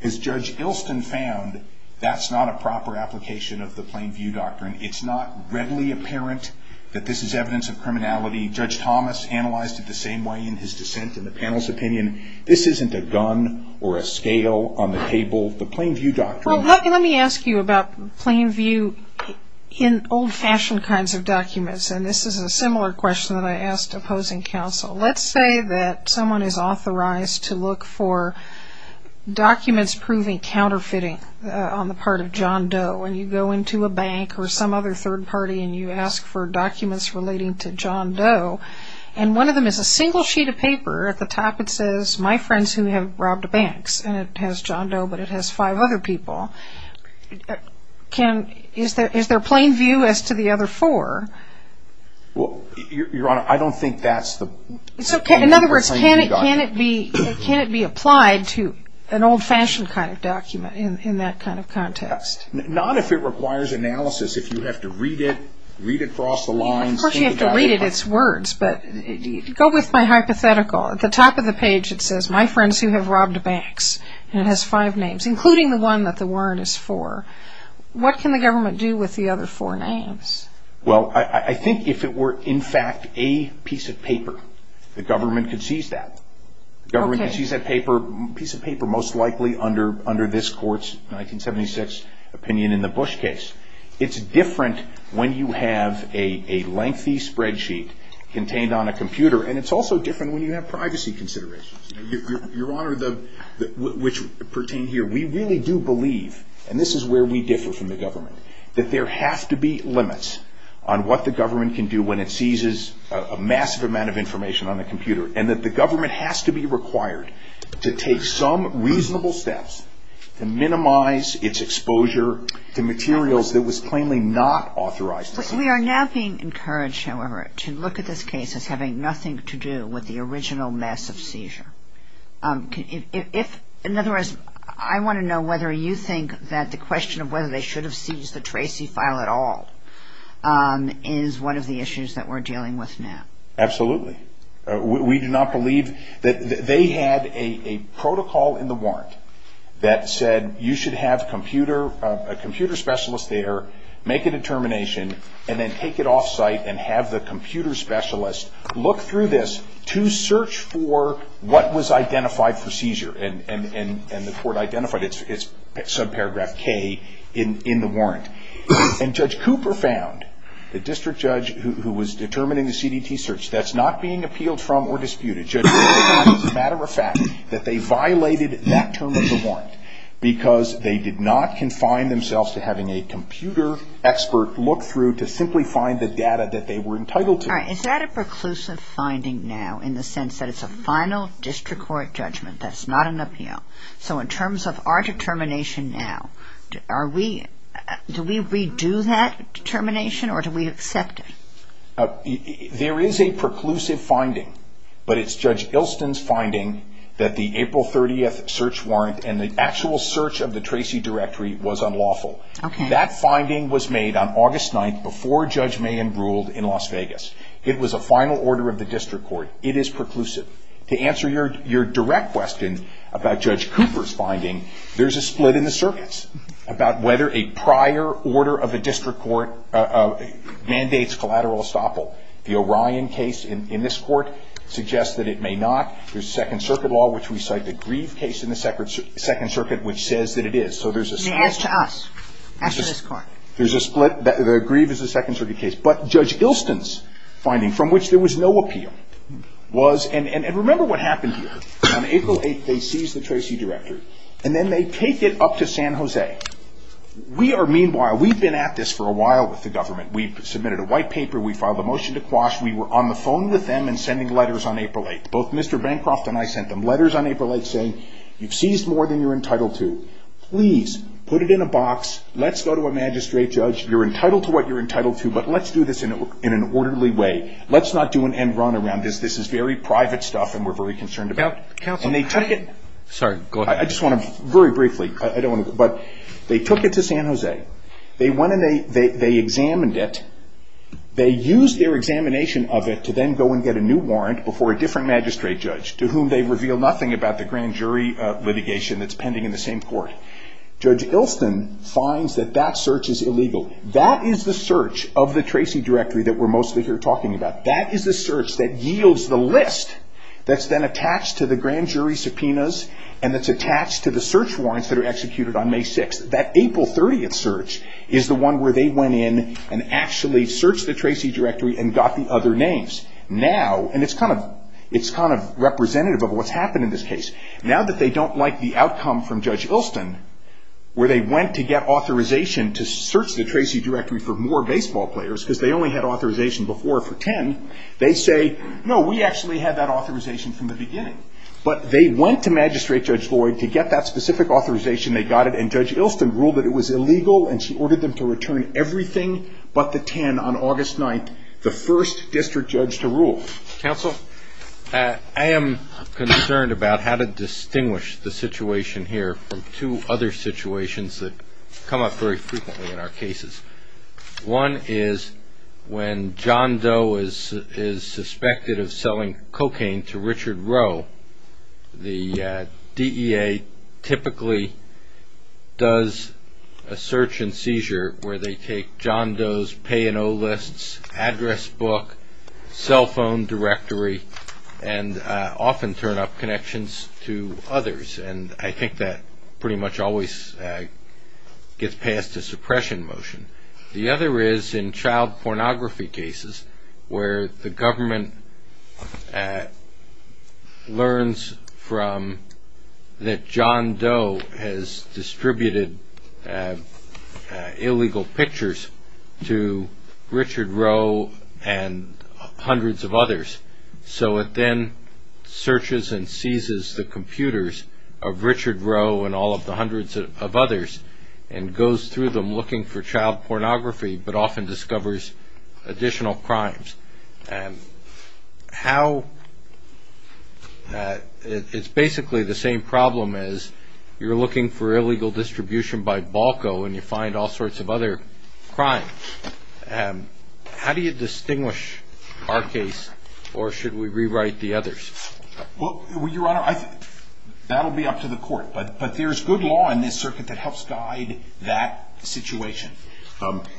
As Judge Ilson found, that's not a proper application of the plain view doctrine. It's not readily apparent that this is evidence of criminality. Judge Thomas analyzed it the same way in his dissent in the panel's opinion. This isn't a gun or a scale on the table. The plain view doctrine- Well, let me ask you about plain view in old-fashioned kinds of documents, and this is a similar question that I asked opposing counsel. Let's say that someone is authorized to look for documents proving counterfeiting on the part of John Doe, and you go into a bank or some other third party and you ask for documents relating to John Doe, and one of them is a single sheet of paper. At the top, it says, my friends who have robbed banks, and it has John Doe, but it has five other people. Is there plain view as to the other four? Well, Your Honor, I don't think that's the- In other words, can it be applied to an old-fashioned kind of document in that kind of context? Not if it requires analysis. If you have to read it, read it across the lines- Of course, you have to read it. It's words, but go with my hypothetical. At the top of the page, it says, my friends who have robbed banks, and it has five names, including the one that the warrant is for. What can the government do with the other four names? Well, I think if it were, in fact, a piece of paper, the government could seize that. The government could seize that piece of paper, most likely, under this court's 1976 opinion in the Bush case. It's different when you have a lengthy spreadsheet contained on a computer, and it's also different when you have privacy considerations. Your Honor, which pertain here, we really do believe, and this is where we differ from the government, that there have to be limits on what the government can do when it seizes a massive amount of information on a computer, and that the government has to be required to take some reasonable steps to minimize its exposure to materials that was plainly not authorized. We are now being encouraged, however, to look at this case as having nothing to do with the original massive seizure. In other words, I want to know whether you think that the question of whether they should have seized the Tracy file at all is one of the issues that we're dealing with now. Absolutely. We do not believe that they had a protocol in the warrant that said you should have a computer specialist there, make a determination, and then take it off-site and have the computer specialist look through this to search for what was identified for seizure. And the court identified it. It's subparagraph K in the warrant. And Judge Cooper found, the district judge who was determining the CDT search, that's not being appealed from or disputed. Judge Cooper found, as a matter of fact, that they violated that term of the warrant because they did not confine themselves to having a computer expert look through to simply find the data that they were entitled to. All right. Is that a preclusive finding now in the sense that it's a final district court judgment? That's not an appeal. So in terms of our determination now, do we redo that determination or do we accept it? There is a preclusive finding, but it's Judge Ilston's finding that the April 30th search warrant and the actual search of the Tracy directory was unlawful. That finding was made on August 9th before Judge Mayen ruled in Las Vegas. It was a final order of the district court. It is preclusive. To answer your direct question about Judge Cooper's finding, there's a split in the circuits about whether a prior order of the district court mandates collateral estoppel. The Orion case in this court suggests that it may not. There's Second Circuit law, which we cite the Grieve case in the Second Circuit, which says that it is. So there's a split. As to us. As to this court. There's a split. The Grieve is a Second Circuit case. But Judge Ilston's finding, from which there was no appeal, was. And remember what happened here. On April 8th, they seized the Tracy directory. And then they take it up to San Jose. We are, meanwhile, we've been at this for a while with the government. We submitted a white paper. We filed a motion to quash. We were on the phone with them and sending letters on April 8th. Both Mr. Bancroft and I sent them letters on April 8th saying, you've seized more than you're entitled to. Please put it in a box. Let's go to a magistrate judge. You're entitled to what you're entitled to, but let's do this in an orderly way. Let's not do an end run around this. This is very private stuff and we're very concerned about it. And they took it. I just want to very briefly. I don't want to. But they took it to San Jose. They went and they examined it. They used their examination of it to then go and get a new warrant before a different magistrate judge, to whom they reveal nothing about the grand jury litigation that's pending in the same court. Judge Ilston finds that that search is illegal. That is the search of the Tracy directory that we're mostly here talking about. That is the search that yields the list that's then attached to the grand jury subpoenas and that's attached to the search warrants that are executed on May 6th. That April 30th search is the one where they went in and actually searched the Tracy directory and got the other names. Now, and it's kind of representative of what's happened in this case. Now that they don't like the outcome from Judge Ilston, where they went to get authorization to search the Tracy directory for more baseball players, because they only had authorization before for 10, they say, no, we actually had that authorization from the beginning. But they went to Magistrate Judge Lloyd to get that specific authorization. They got it and Judge Ilston ruled that it was illegal and she ordered them to return everything but the 10 on August 9th, the first district judge to rule. Counsel, I am concerned about how to distinguish the situation here from two other situations that come up very frequently in our cases. One is when John Doe is suspected of selling cocaine to Richard Rowe, the DEA typically does a search and seizure where they take John Doe's pay and owe lists, address book, cell phone directory, and often turn up connections to others. And I think that pretty much always gets past the suppression motion. The other is in child pornography cases, where the government learns that John Doe has distributed illegal pictures to Richard Rowe and hundreds of others. So it then searches and seizes the computers of Richard Rowe and all of the hundreds of others and goes through them looking for child pornography but often discovers additional crimes. And how, it's basically the same problem as you're looking for illegal distribution by BALCO and you find all sorts of other crimes. How do you distinguish our case or should we rewrite the others? Well, Your Honor, that will be up to the court. But there's good law in this circuit that helps guide that situation.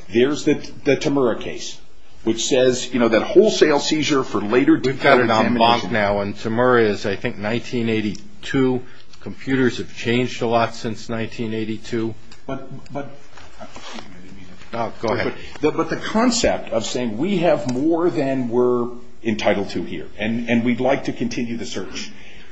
Here's the Temura case, which says that wholesale seizure for later... We've got it on lock now. And Temura is, I think, 1982. Computers have changed a lot since 1982. Go ahead. But the concept of saying we have more than we're entitled to here and we'd like to continue the search.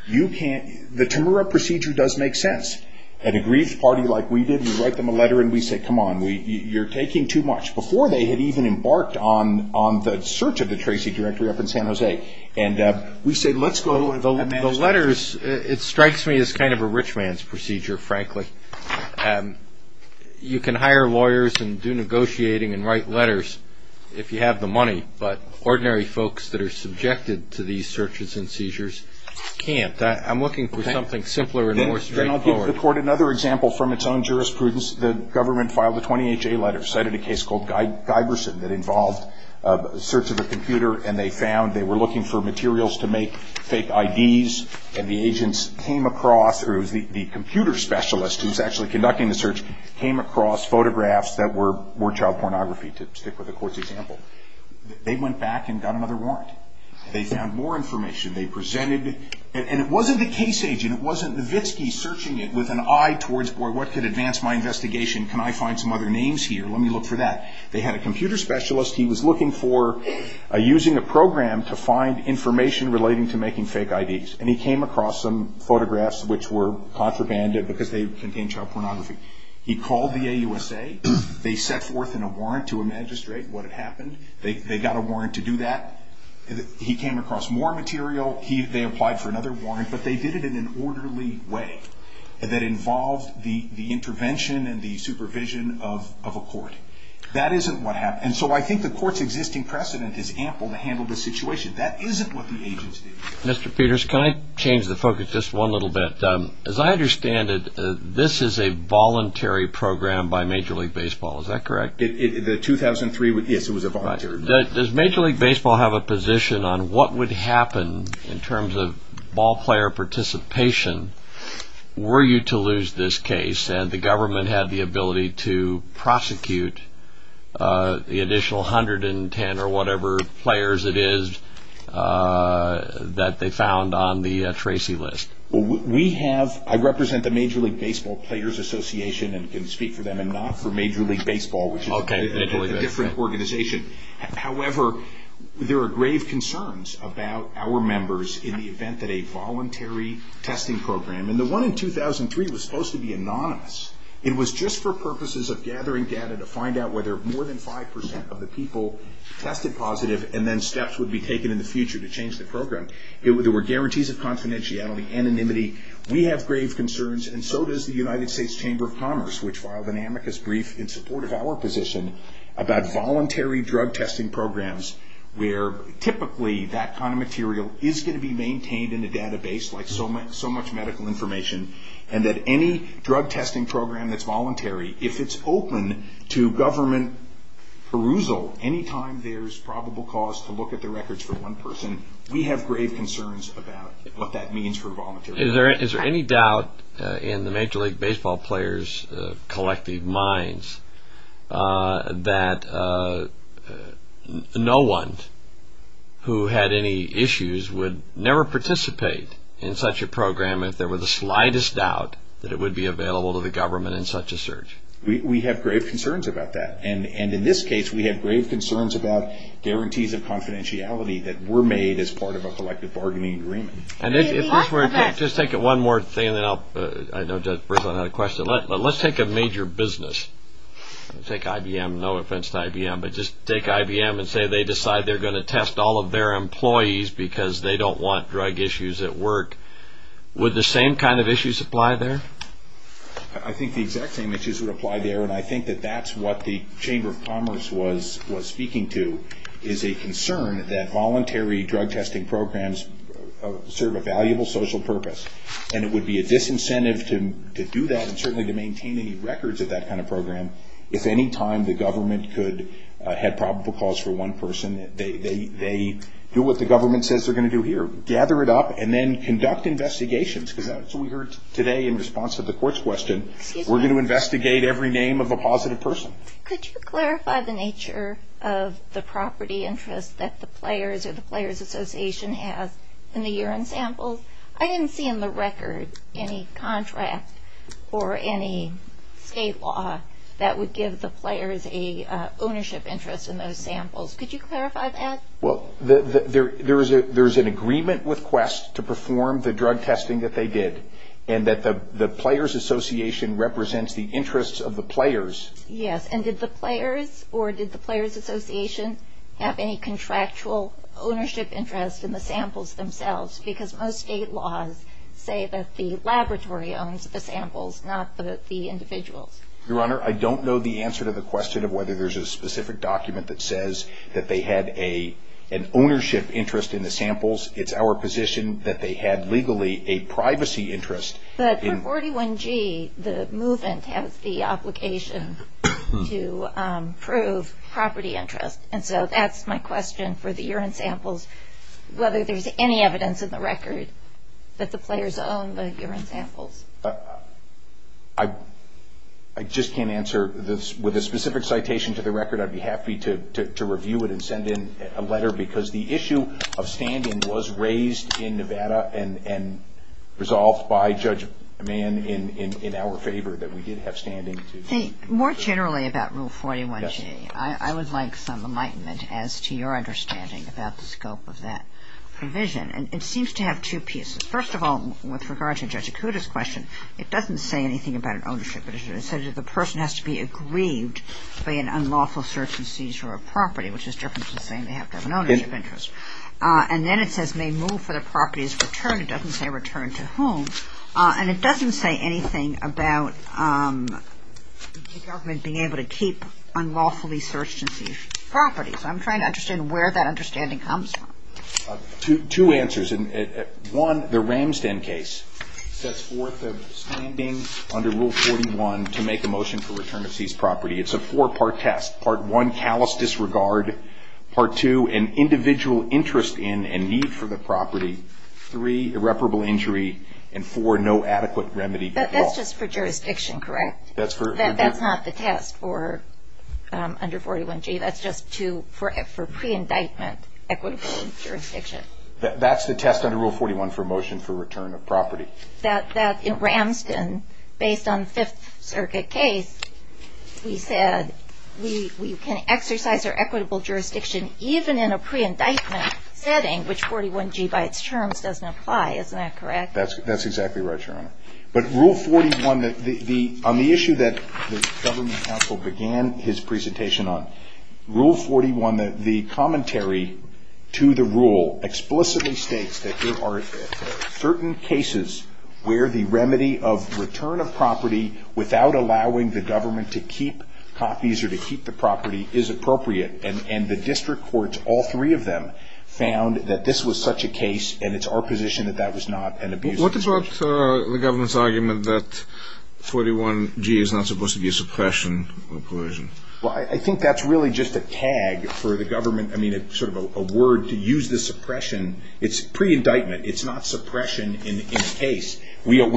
The Temura procedure does make sense. At a grievous party like we did, we write them a letter and we say, come on, you're taking too much. Before they had even embarked on the search of the Tracy directory up in San Jose. And we said, let's go... The letters, it strikes me as kind of a rich man's procedure, frankly. You can hire lawyers and do negotiating and write letters if you have the money. But ordinary folks that are subjected to these searches and seizures can't. I'm looking for something simpler and more straightforward. Then I'll give the court another example from its own jurisprudence. The government filed a 20HA letter citing a case called Guyverson that involved a search of a computer. And they found they were looking for materials to make fake IDs. And the agents came across, or the computer specialist who was actually conducting the search, came across photographs that were child pornography, to stick with the court's example. They went back and got another warrant. They found more information. They presented it. And it wasn't the case agent. It wasn't Vitsky searching it with an eye towards, or what could advance my investigation? Can I find some other names here? Let me look for that. They had a computer specialist. He was looking for using a program to find information relating to making fake IDs. And he came across some photographs which were contraband because they contained child pornography. He called the AUSA. They set forth in a warrant to a magistrate what had happened. They got a warrant to do that. He came across more material. They applied for another warrant. But they did it in an orderly way that involved the intervention and the supervision of a court. That isn't what happened. And so I think the court's existing precedent is ample to handle this situation. That isn't what the agents did. Mr. Peters, can I change the focus just one little bit? As I understand it, this is a voluntary program by Major League Baseball. Is that correct? The 2003, yes, it was a voluntary program. Does Major League Baseball have a position on what would happen in terms of ball player participation were you to lose this case and the government had the ability to prosecute the additional 110 or whatever players it is that they found on the Tracy list? I represent the Major League Baseball Players Association and can speak for them and not for Major League Baseball, which is a different organization. However, there are grave concerns about our members in the event that a voluntary testing program, and the one in 2003 was supposed to be anonymous. It was just for purposes of gathering data to find out whether more than 5% of the people tested positive and then steps would be taken in the future to change the program. There were guarantees of confidentiality, anonymity. We have grave concerns and so does the United States Chamber of Commerce, which filed an amicus brief in support of our position about voluntary drug testing programs where typically that kind of material is going to be maintained in a database like so much medical information and that any drug testing program that's voluntary, if it's open to government perusal, any time there's probable cause to look at the records for one person, we have grave concerns about what that means for volunteers. Is there any doubt in the Major League Baseball Players' collective minds that no one who had any issues would never participate in such a program if there were the slightest doubt that it would be available to the government in such a search? We have grave concerns about that. And in this case, we have grave concerns about guarantees of confidentiality that were made as part of a collective bargaining agreement. And if we're just taking one more thing that I know just brings up another question, let's take a major business, let's take IBM, no offense to IBM, but just take IBM and say they decide they're going to test all of their employees because they don't want drug issues at work. Would the same kind of issues apply there? I think the exact same issues would apply there, and I think that that's what the Chamber of Commerce was speaking to is a concern that voluntary drug testing programs serve a valuable social purpose, and it would be a disincentive to do that and certainly to maintain any records of that kind of program if any time the government could have probable cause for one person. They do what the government says they're going to do here, gather it up, and then conduct investigations because that's what we heard today in response to the court's question. We're going to investigate every name of a positive person. Could you clarify the nature of the property interest that the players or the players' association have in the urine samples? I didn't see in the record any contrast or any state law that would give the players an ownership interest in those samples. Could you clarify that? Well, there's an agreement with Quest to perform the drug testing that they did and that the players' association represents the interests of the players. Yes, and did the players or did the players' association have any contractual ownership interest in the samples themselves because most state laws say that the laboratory owns the samples, not the individual. Your Honor, I don't know the answer to the question of whether there's a specific document that says that they had an ownership interest in the samples. It's our position that they had legally a privacy interest. But for 41G, the movement has the obligation to prove property interest, and so that's my question for the urine samples, whether there's any evidence in the record that the players own the urine samples. I just can't answer this. With a specific citation to the record, I'd be happy to review it and send in a letter because the issue of standing was raised in Nevada and resolved by Judge Mann in our favor that we did have standing. More generally about Rule 41G, I would like some enlightenment as to your understanding about the scope of that provision. It seems to have two pieces. First of all, with regard to Judge Acuda's question, it doesn't say anything about an ownership interest. It says that the person has to be aggrieved by an unlawful search and seizure of property, which is different from saying they have an ownership interest. And then it says may move for the property's return. It doesn't say return to whom. And it doesn't say anything about the government being able to keep unlawfully searched and seized property. So I'm trying to understand where that understanding comes from. Two answers. One, the Ramsden case, that's worth standing under Rule 41 to make a motion for return of seized property. It's a four-part test. Part one, callous disregard. Part two, an individual interest in and need for the property. Three, irreparable injury. And four, no adequate remedy at all. That's just for jurisdiction, correct? That's not the test for under 41G. That's just for pre-indictment equitable jurisdiction. That's the test under Rule 41 for a motion for return of property. In Ramsden, based on the Fifth Circuit case, we said we can exercise our equitable jurisdiction even in a pre-indictment setting, which 41G by its terms doesn't apply. Isn't that correct? That's exactly right, Your Honor. But Rule 41, on the issue that the government counsel began his presentation on, Rule 41, the commentary to the rule explicitly states that there are certain cases where the remedy of return of property without allowing the government to keep copies or to keep the property is appropriate. And the district courts, all three of them, found that this was such a case, and it's our position that that was not an abuse of jurisdiction. What disrupts the government's argument that 41G is not supposed to be a suppression of coercion? Well, I think that's really just a tag for the government. I mean, it's sort of a word to use the suppression. It's pre-indictment. It's not suppression in a case. We're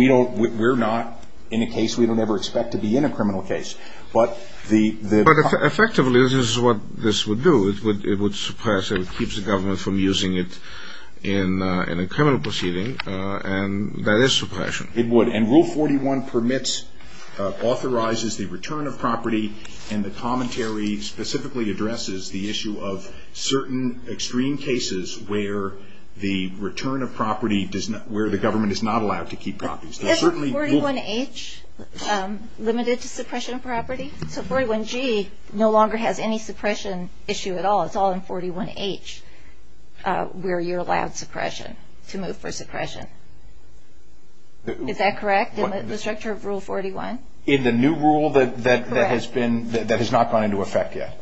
not in a case we don't ever expect to be in, a criminal case. But effectively, this is what this would do. It would suppress and keep the government from using it in a criminal proceeding, and that is suppression. It would, and Rule 41 permits, authorizes the return of property, and the commentary specifically addresses the issue of certain extreme cases where the return of property does not, where the government is not allowed to keep copies. Does 41H limit it to suppression of property? Because 41G no longer has any suppression issue at all. Well, it's all in 41H where you're allowed suppression, to move for suppression. Is that correct in the structure of Rule 41? In the new rule that has been, that has not gone into effect yet?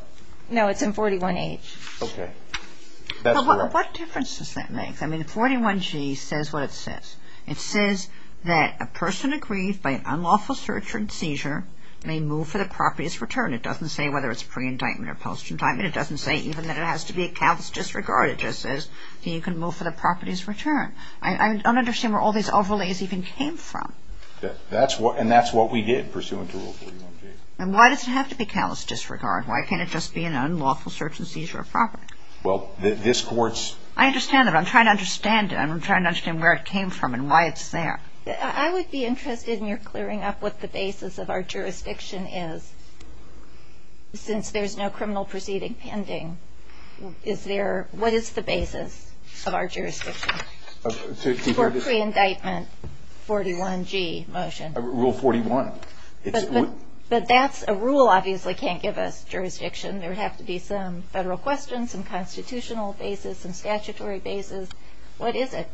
No, it's in 41H. Okay. What difference does that make? I mean, 41G says what it says. It says that a person aggrieved by an unlawful search or seizure may move for the property's return. And it doesn't say whether it's pre-indictment or post-indictment. It doesn't say even that it has to be a callous disregard. It just says that you can move for the property's return. I don't understand where all these overlays even came from. And that's what we did pursuant to Rule 41G. And why does it have to be callous disregard? Why can't it just be an unlawful search and seizure of property? Well, this court's... I understand that. I'm trying to understand it. I'm trying to understand where it came from and why it's there. I would be interested in your clearing up what the basis of our jurisdiction is. Since there's no criminal proceeding pending, is there... what is the basis of our jurisdiction for pre-indictment 41G motion? Rule 41. But that's a rule obviously can't give us jurisdiction. There would have to be some federal questions and constitutional basis and statutory basis. What is it?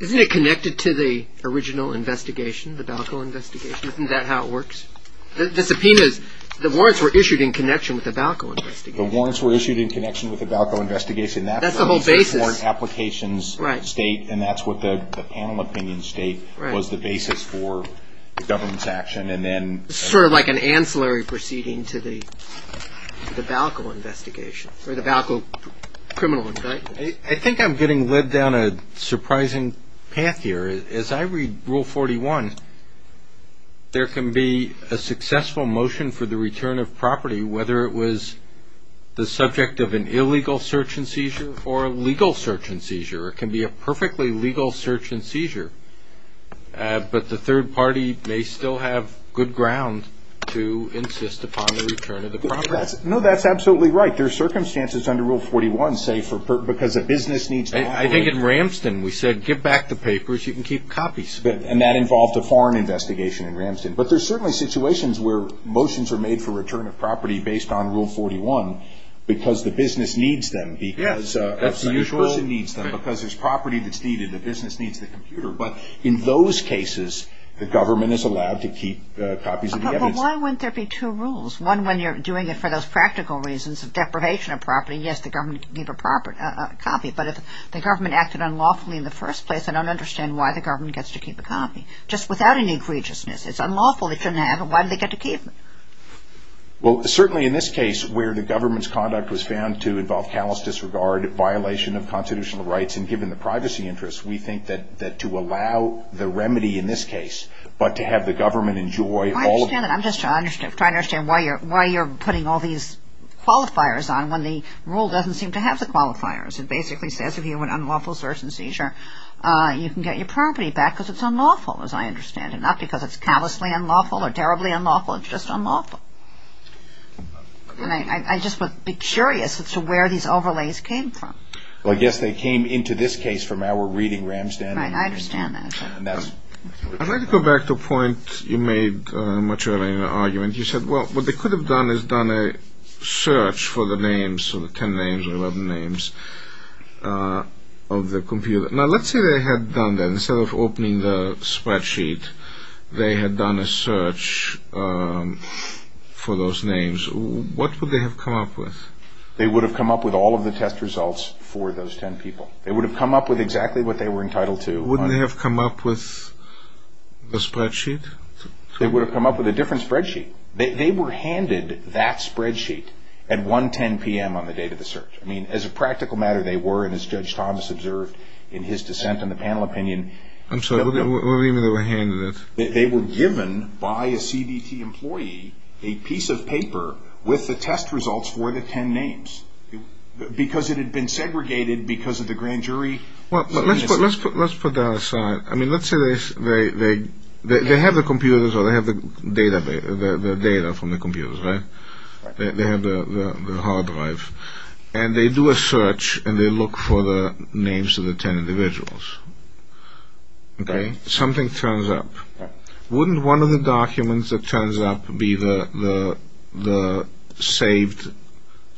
Isn't it connected to the original investigation, the Balco investigation? Isn't that how it works? The subpoena is the warrants were issued in connection with the Balco investigation. The warrants were issued in connection with the Balco investigation. That's the whole basis. That's what the applications state and that's what the panel opinions state was the basis for the government's action. It's sort of like an ancillary proceeding to the Balco investigation or the Balco criminal investigation. I think I'm getting led down a surprising path here. As I read Rule 41, there can be a successful motion for the return of property, whether it was the subject of an illegal search and seizure or a legal search and seizure. It can be a perfectly legal search and seizure, but the third party may still have good ground to insist upon the return of the property. No, that's absolutely right. But there are circumstances under Rule 41, say, because a business needs copies. I think in Ramston, we said, give back the papers. You can keep copies. And that involved a foreign investigation in Ramston. But there are certainly situations where motions are made for return of property based on Rule 41 because the business needs them. Yes. Because there's property that's needed. The business needs the computer. But in those cases, the government is allowed to keep copies of the evidence. Well, why wouldn't there be two rules? One, when you're doing it for those practical reasons of deprivation of property, yes, the government can keep a copy. But if the government acted unlawfully in the first place, I don't understand why the government gets to keep a copy, just without any egregiousness. It's unlawful. It shouldn't happen. Why do they get to keep it? Well, certainly in this case, where the government's conduct was found to involve callous disregard, violation of constitutional rights, and given the privacy interests, we think that to allow the remedy in this case, but to have the government enjoy all the... I understand that. I'm just trying to understand why you're putting all these qualifiers on when the rule doesn't seem to have the qualifiers. It basically says if you're an unlawful source in seizure, you can get your property back because it's unlawful, as I understand it. Not because it's callously unlawful or terribly unlawful. It's just unlawful. I just would be curious as to where these overlays came from. Well, I guess they came into this case from our reading, Ramstan. I understand that. I'd like to go back to a point you made much earlier in your argument. You said, well, what they could have done is done a search for the names, so the 10 names or 11 names of the computer. Now, let's say they had done that. Instead of opening the spreadsheet, they had done a search for those names. What would they have come up with? They would have come up with all of the test results for those 10 people. They would have come up with exactly what they were entitled to. Wouldn't they have come up with a spreadsheet? They would have come up with a different spreadsheet. They were handed that spreadsheet at 110 p.m. on the date of the search. I mean, as a practical matter, they were, and as Judge Thomas observed in his dissent in the panel opinion. I'm sorry, what do you mean they were handed it? They were given by a CDT employee a piece of paper with the test results for the 10 names, because it had been segregated because of the grand jury. Well, let's put that aside. I mean, let's say they have the computers or they have the data from the computers, right? They have the hard drive, and they do a search, and they look for the names of the 10 individuals. Okay? Something turns up. Wouldn't one of the documents that turns up be the saved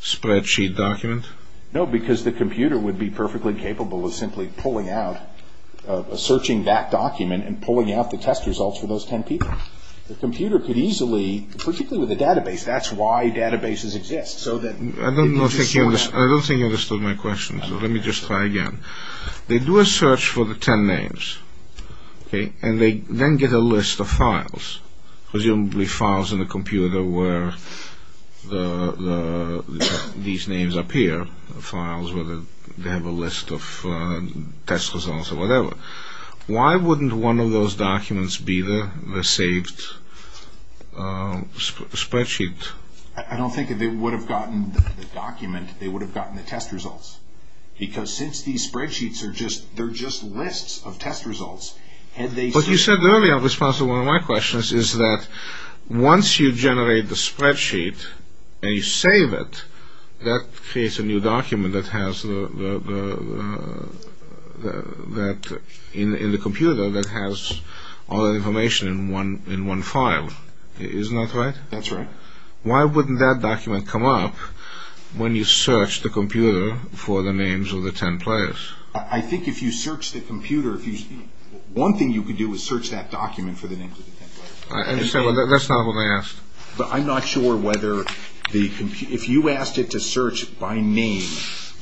spreadsheet document? No, because the computer would be perfectly capable of simply pulling out, searching that document and pulling out the test results for those 10 people. The computer could easily, particularly with a database, that's why databases exist. I don't think you understood my question, so let me just try again. Okay. They do a search for the 10 names, okay, and they then get a list of files, presumably files in the computer where these names appear, files where they have a list of test results or whatever. Why wouldn't one of those documents be the saved spreadsheet? I don't think if they would have gotten the document, they would have gotten the test results, because since these spreadsheets are just, they're just lists of test results. But you said earlier, in response to one of my questions, is that once you generate the spreadsheet and you save it, that creates a new document that has, in the computer, that has all the information in one file. Isn't that right? That's right. Why wouldn't that document come up when you search the computer for the names of the 10 players? I think if you search the computer, one thing you could do is search that document for the names of the 10 players. I understand. Well, that's not what I asked. But I'm not sure whether the computer, if you asked it to search by name,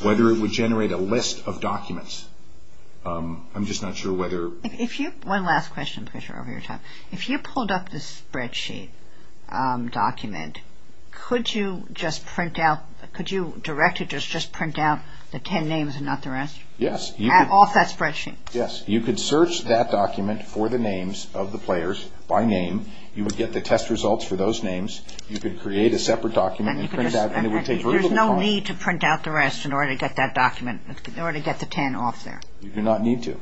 whether it would generate a list of documents. I'm just not sure whether... One last question, because you're over your time. If you pulled up the spreadsheet document, could you just print out, could you directly just print out the 10 names and not the rest? Yes. Off that spreadsheet? Yes. You could search that document for the names of the players by name. You would get the test results for those names. You could create a separate document and print it out. There's no need to print out the rest in order to get that document, in order to get the 10 off there. You do not need to.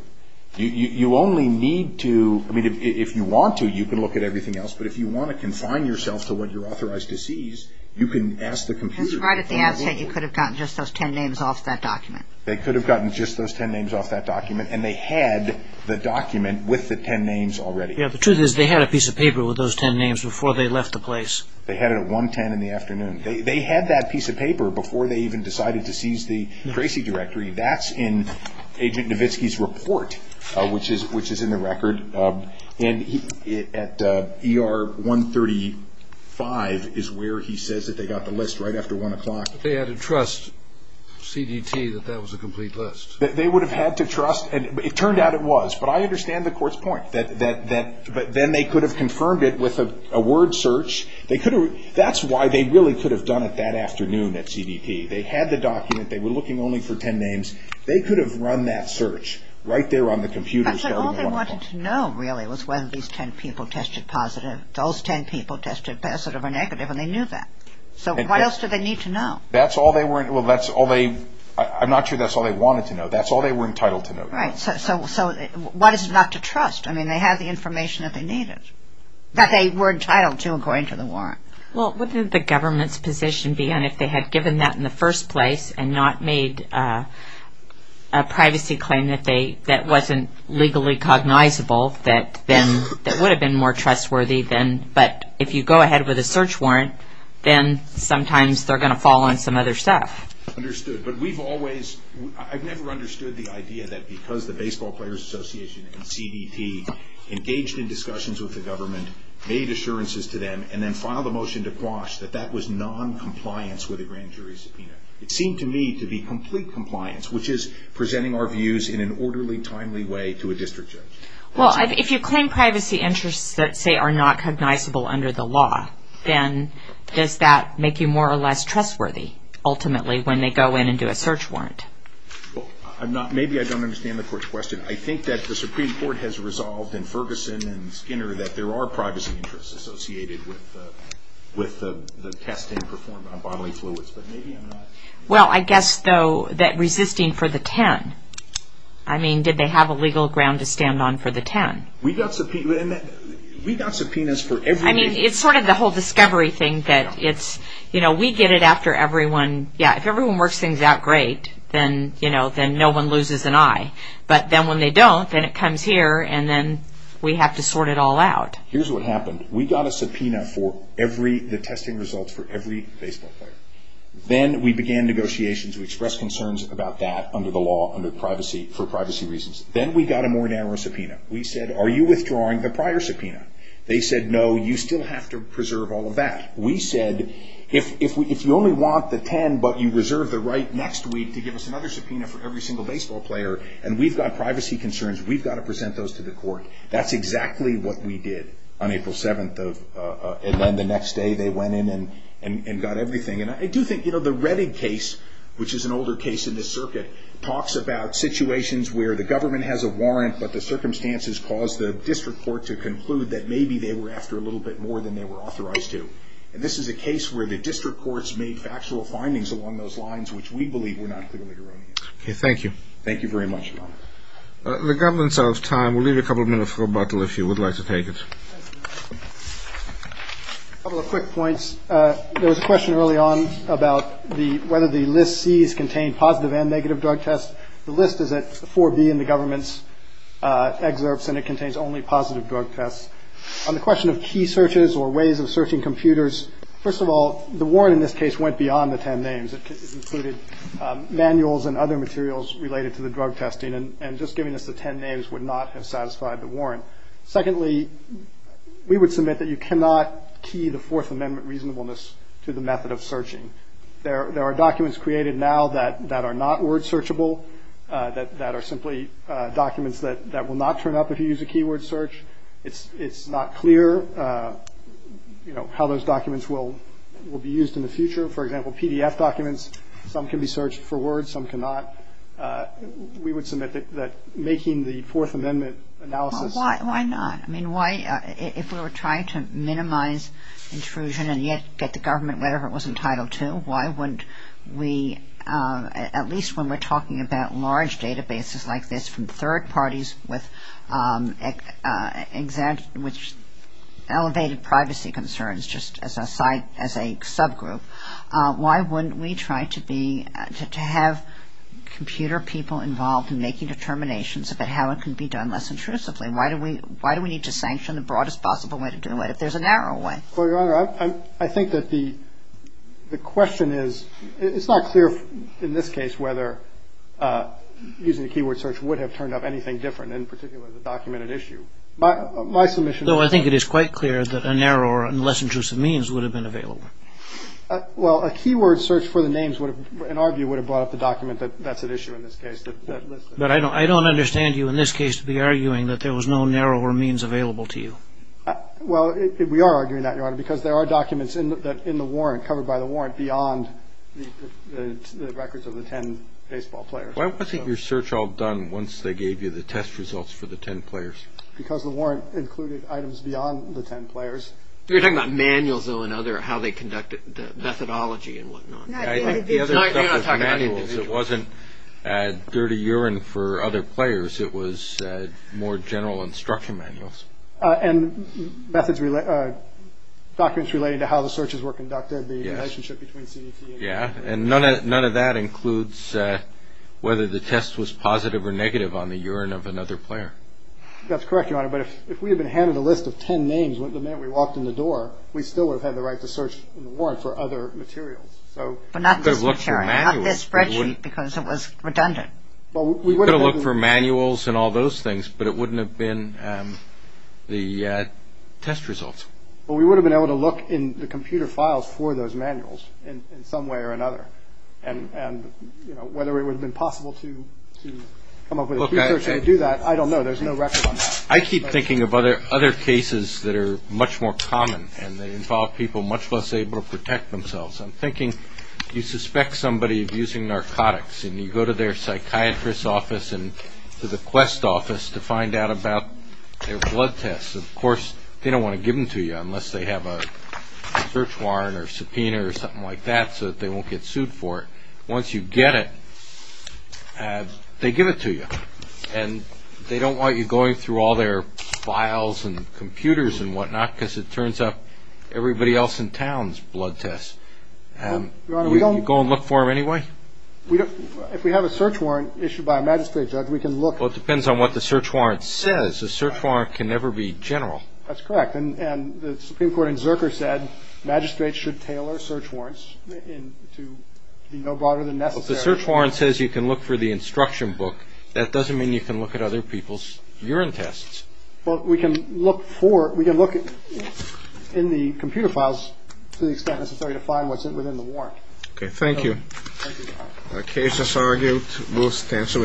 You only need to, I mean, if you want to, you can look at everything else. But if you want to confine yourself to what you're authorized to seize, you can ask the computer. Right at the outset, you could have gotten just those 10 names off that document. They could have gotten just those 10 names off that document, and they had the document with the 10 names already. Yes, the truth is they had a piece of paper with those 10 names before they left the place. They had it at 110 in the afternoon. They had that piece of paper before they even decided to seize the Tracy directory. That's in Agent Nowitzki's report, which is in the record. And at ER 135 is where he says that they got the list right after 1 o'clock. They had to trust CDT that that was a complete list. They would have had to trust, and it turned out it was. But I understand the court's point, that then they could have confirmed it with a word search. That's why they really could have done it that afternoon at CDT. They had the document. They were looking only for 10 names. They could have run that search right there on the computer. But all they wanted to know, really, was whether these 10 people tested positive. Those 10 people tested positive or negative, and they knew that. So what else do they need to know? That's all they were entitled to know. Right. So why is it not to trust? I mean, they had the information that they needed. But they were entitled to, according to the warrant. Well, what would the government's position be if they had given that in the first place and not made a privacy claim that wasn't legally cognizable that would have been more trustworthy? But if you go ahead with a search warrant, then sometimes they're going to fall on some other stuff. Understood. But I've never understood the idea that because the Baseball Players Association and CDT engaged in discussions with the government, made assurances to them, and then filed a motion to quash that that was noncompliance with a grand jury subpoena. It seemed to me to be complete compliance, which is presenting our views in an orderly, timely way to a district judge. Well, if you claim privacy interests that say are not cognizable under the law, then does that make you more or less trustworthy, ultimately, when they go in and do a search warrant? Well, maybe I don't understand the court's question. I think that the Supreme Court has resolved in Ferguson and Skinner that there are privacy interests associated with the testing performed on bodily fluids. But maybe I'm not. Well, I guess, though, that resisting for the 10. I mean, did they have a legal ground to stand on for the 10? We got subpoenas for everything. I mean, it's sort of the whole discovery thing that it's, you know, we get it after everyone. Yeah, if everyone works things out great, then, you know, then no one loses an eye. But then when they don't, then it comes here, and then we have to sort it all out. Here's what happened. We got a subpoena for every – the testing results for every baseball player. Then we began negotiations. We expressed concerns about that under the law, under privacy, for privacy reasons. Then we got a more narrow subpoena. We said, are you withdrawing the prior subpoena? They said, no, you still have to preserve all of that. We said, if you only want the 10, but you reserve the right next week to give us another subpoena for every single baseball player, and we've got privacy concerns, we've got to present those to the court. That's exactly what we did on April 7th, and then the next day they went in and got everything. And I do think, you know, the Reddick case, which is an older case in the circuit, talks about situations where the government has a warrant, but the circumstances cause the district court to conclude that maybe they were after a little bit more than they were authorized to. And this is a case where the district courts make factual findings along those lines, which we believe were not clearly wrong. Okay, thank you. Thank you very much. The government's out of time. We'll leave you a couple of minutes for a bottle if you would like to take it. A couple of quick points. There was a question early on about whether the list C is contained positive and negative drug tests. The list is at 4B in the government's excerpts, and it contains only positive drug tests. On the question of key searches or ways of searching computers, first of all, the warrant in this case went beyond the ten names. It included manuals and other materials related to the drug testing, and just giving us the ten names would not have satisfied the warrant. Secondly, we would submit that you cannot key the Fourth Amendment reasonableness to the method of searching. There are documents created now that are not word searchable, that are simply documents that will not turn up if you use a keyword search. It's not clear, you know, how those documents will be used in the future. For example, PDF documents, some can be searched for words, some cannot. We would submit that making the Fourth Amendment analysis. Why not? I mean, if we were trying to minimize intrusion and yet get the government whatever it was entitled to, why wouldn't we, at least when we're talking about large databases like this, from third parties which elevated privacy concerns just as a subgroup, why wouldn't we try to have computer people involved in making determinations about how it can be done less intrusively? Why do we need to sanction the broadest possible way to do it if there's a narrow one? Well, Your Honor, I think that the question is, it's not clear in this case whether using a keyword search would have turned up anything different, in particular if it was a documented issue. So I think it is quite clear that a narrower and less intrusive means would have been available. Well, a keyword search for the names, in our view, would have brought up the document that that's an issue in this case. But I don't understand you in this case to be arguing that there was no narrower means available to you. Well, we are arguing that, Your Honor, because there are documents in the warrant covered by the warrant beyond the records of the ten baseball players. Why wasn't your search all done once they gave you the test results for the ten players? Because the warrant included items beyond the ten players. You're talking about manuals, though, and other how they conducted methodology and whatnot. The other thing was manuals. It wasn't dirty urine for other players. It was more general instruction manuals. And documents related to how the searches were conducted, the relationship between the two. Yes, and none of that includes whether the test was positive or negative on the urine of another player. That's correct, Your Honor. But if we had been handed a list of ten names, the minute we walked in the door, we still would have had the right to search the warrant for other materials. Not this spreadsheet because it was redundant. We could have looked for manuals and all those things, but it wouldn't have been the test results. Well, we would have been able to look in the computer files for those manuals in some way or another. And whether it would have been possible to come up with a procedure to do that, I don't know. There's no record on that. I keep thinking of other cases that are much more common, and they involve people much less able to protect themselves. I'm thinking you suspect somebody of using narcotics, and you go to their psychiatrist's office and to the Quest office to find out about their blood tests. Of course, they don't want to give them to you unless they have a search warrant or subpoena or something like that so that they won't get sued for it. Once you get it, they give it to you. And they don't want you going through all their files and computers and whatnot because it turns up everybody else in town's blood tests. You go and look for them anyway? If we have a search warrant issued by a magistrate, Judge, we can look. Well, it depends on what the search warrant says. A search warrant can never be general. That's correct. And the Supreme Court in Zerker said magistrates should tailor search warrants to be no broader than necessary. Well, if the search warrant says you can look for the instruction book, that doesn't mean you can look at other people's urine tests. Well, we can look for it. We can look in the computer files to the extent necessary to find what's within the warrant. OK, thank you. The case is argued. We'll cancel it. Adjourned.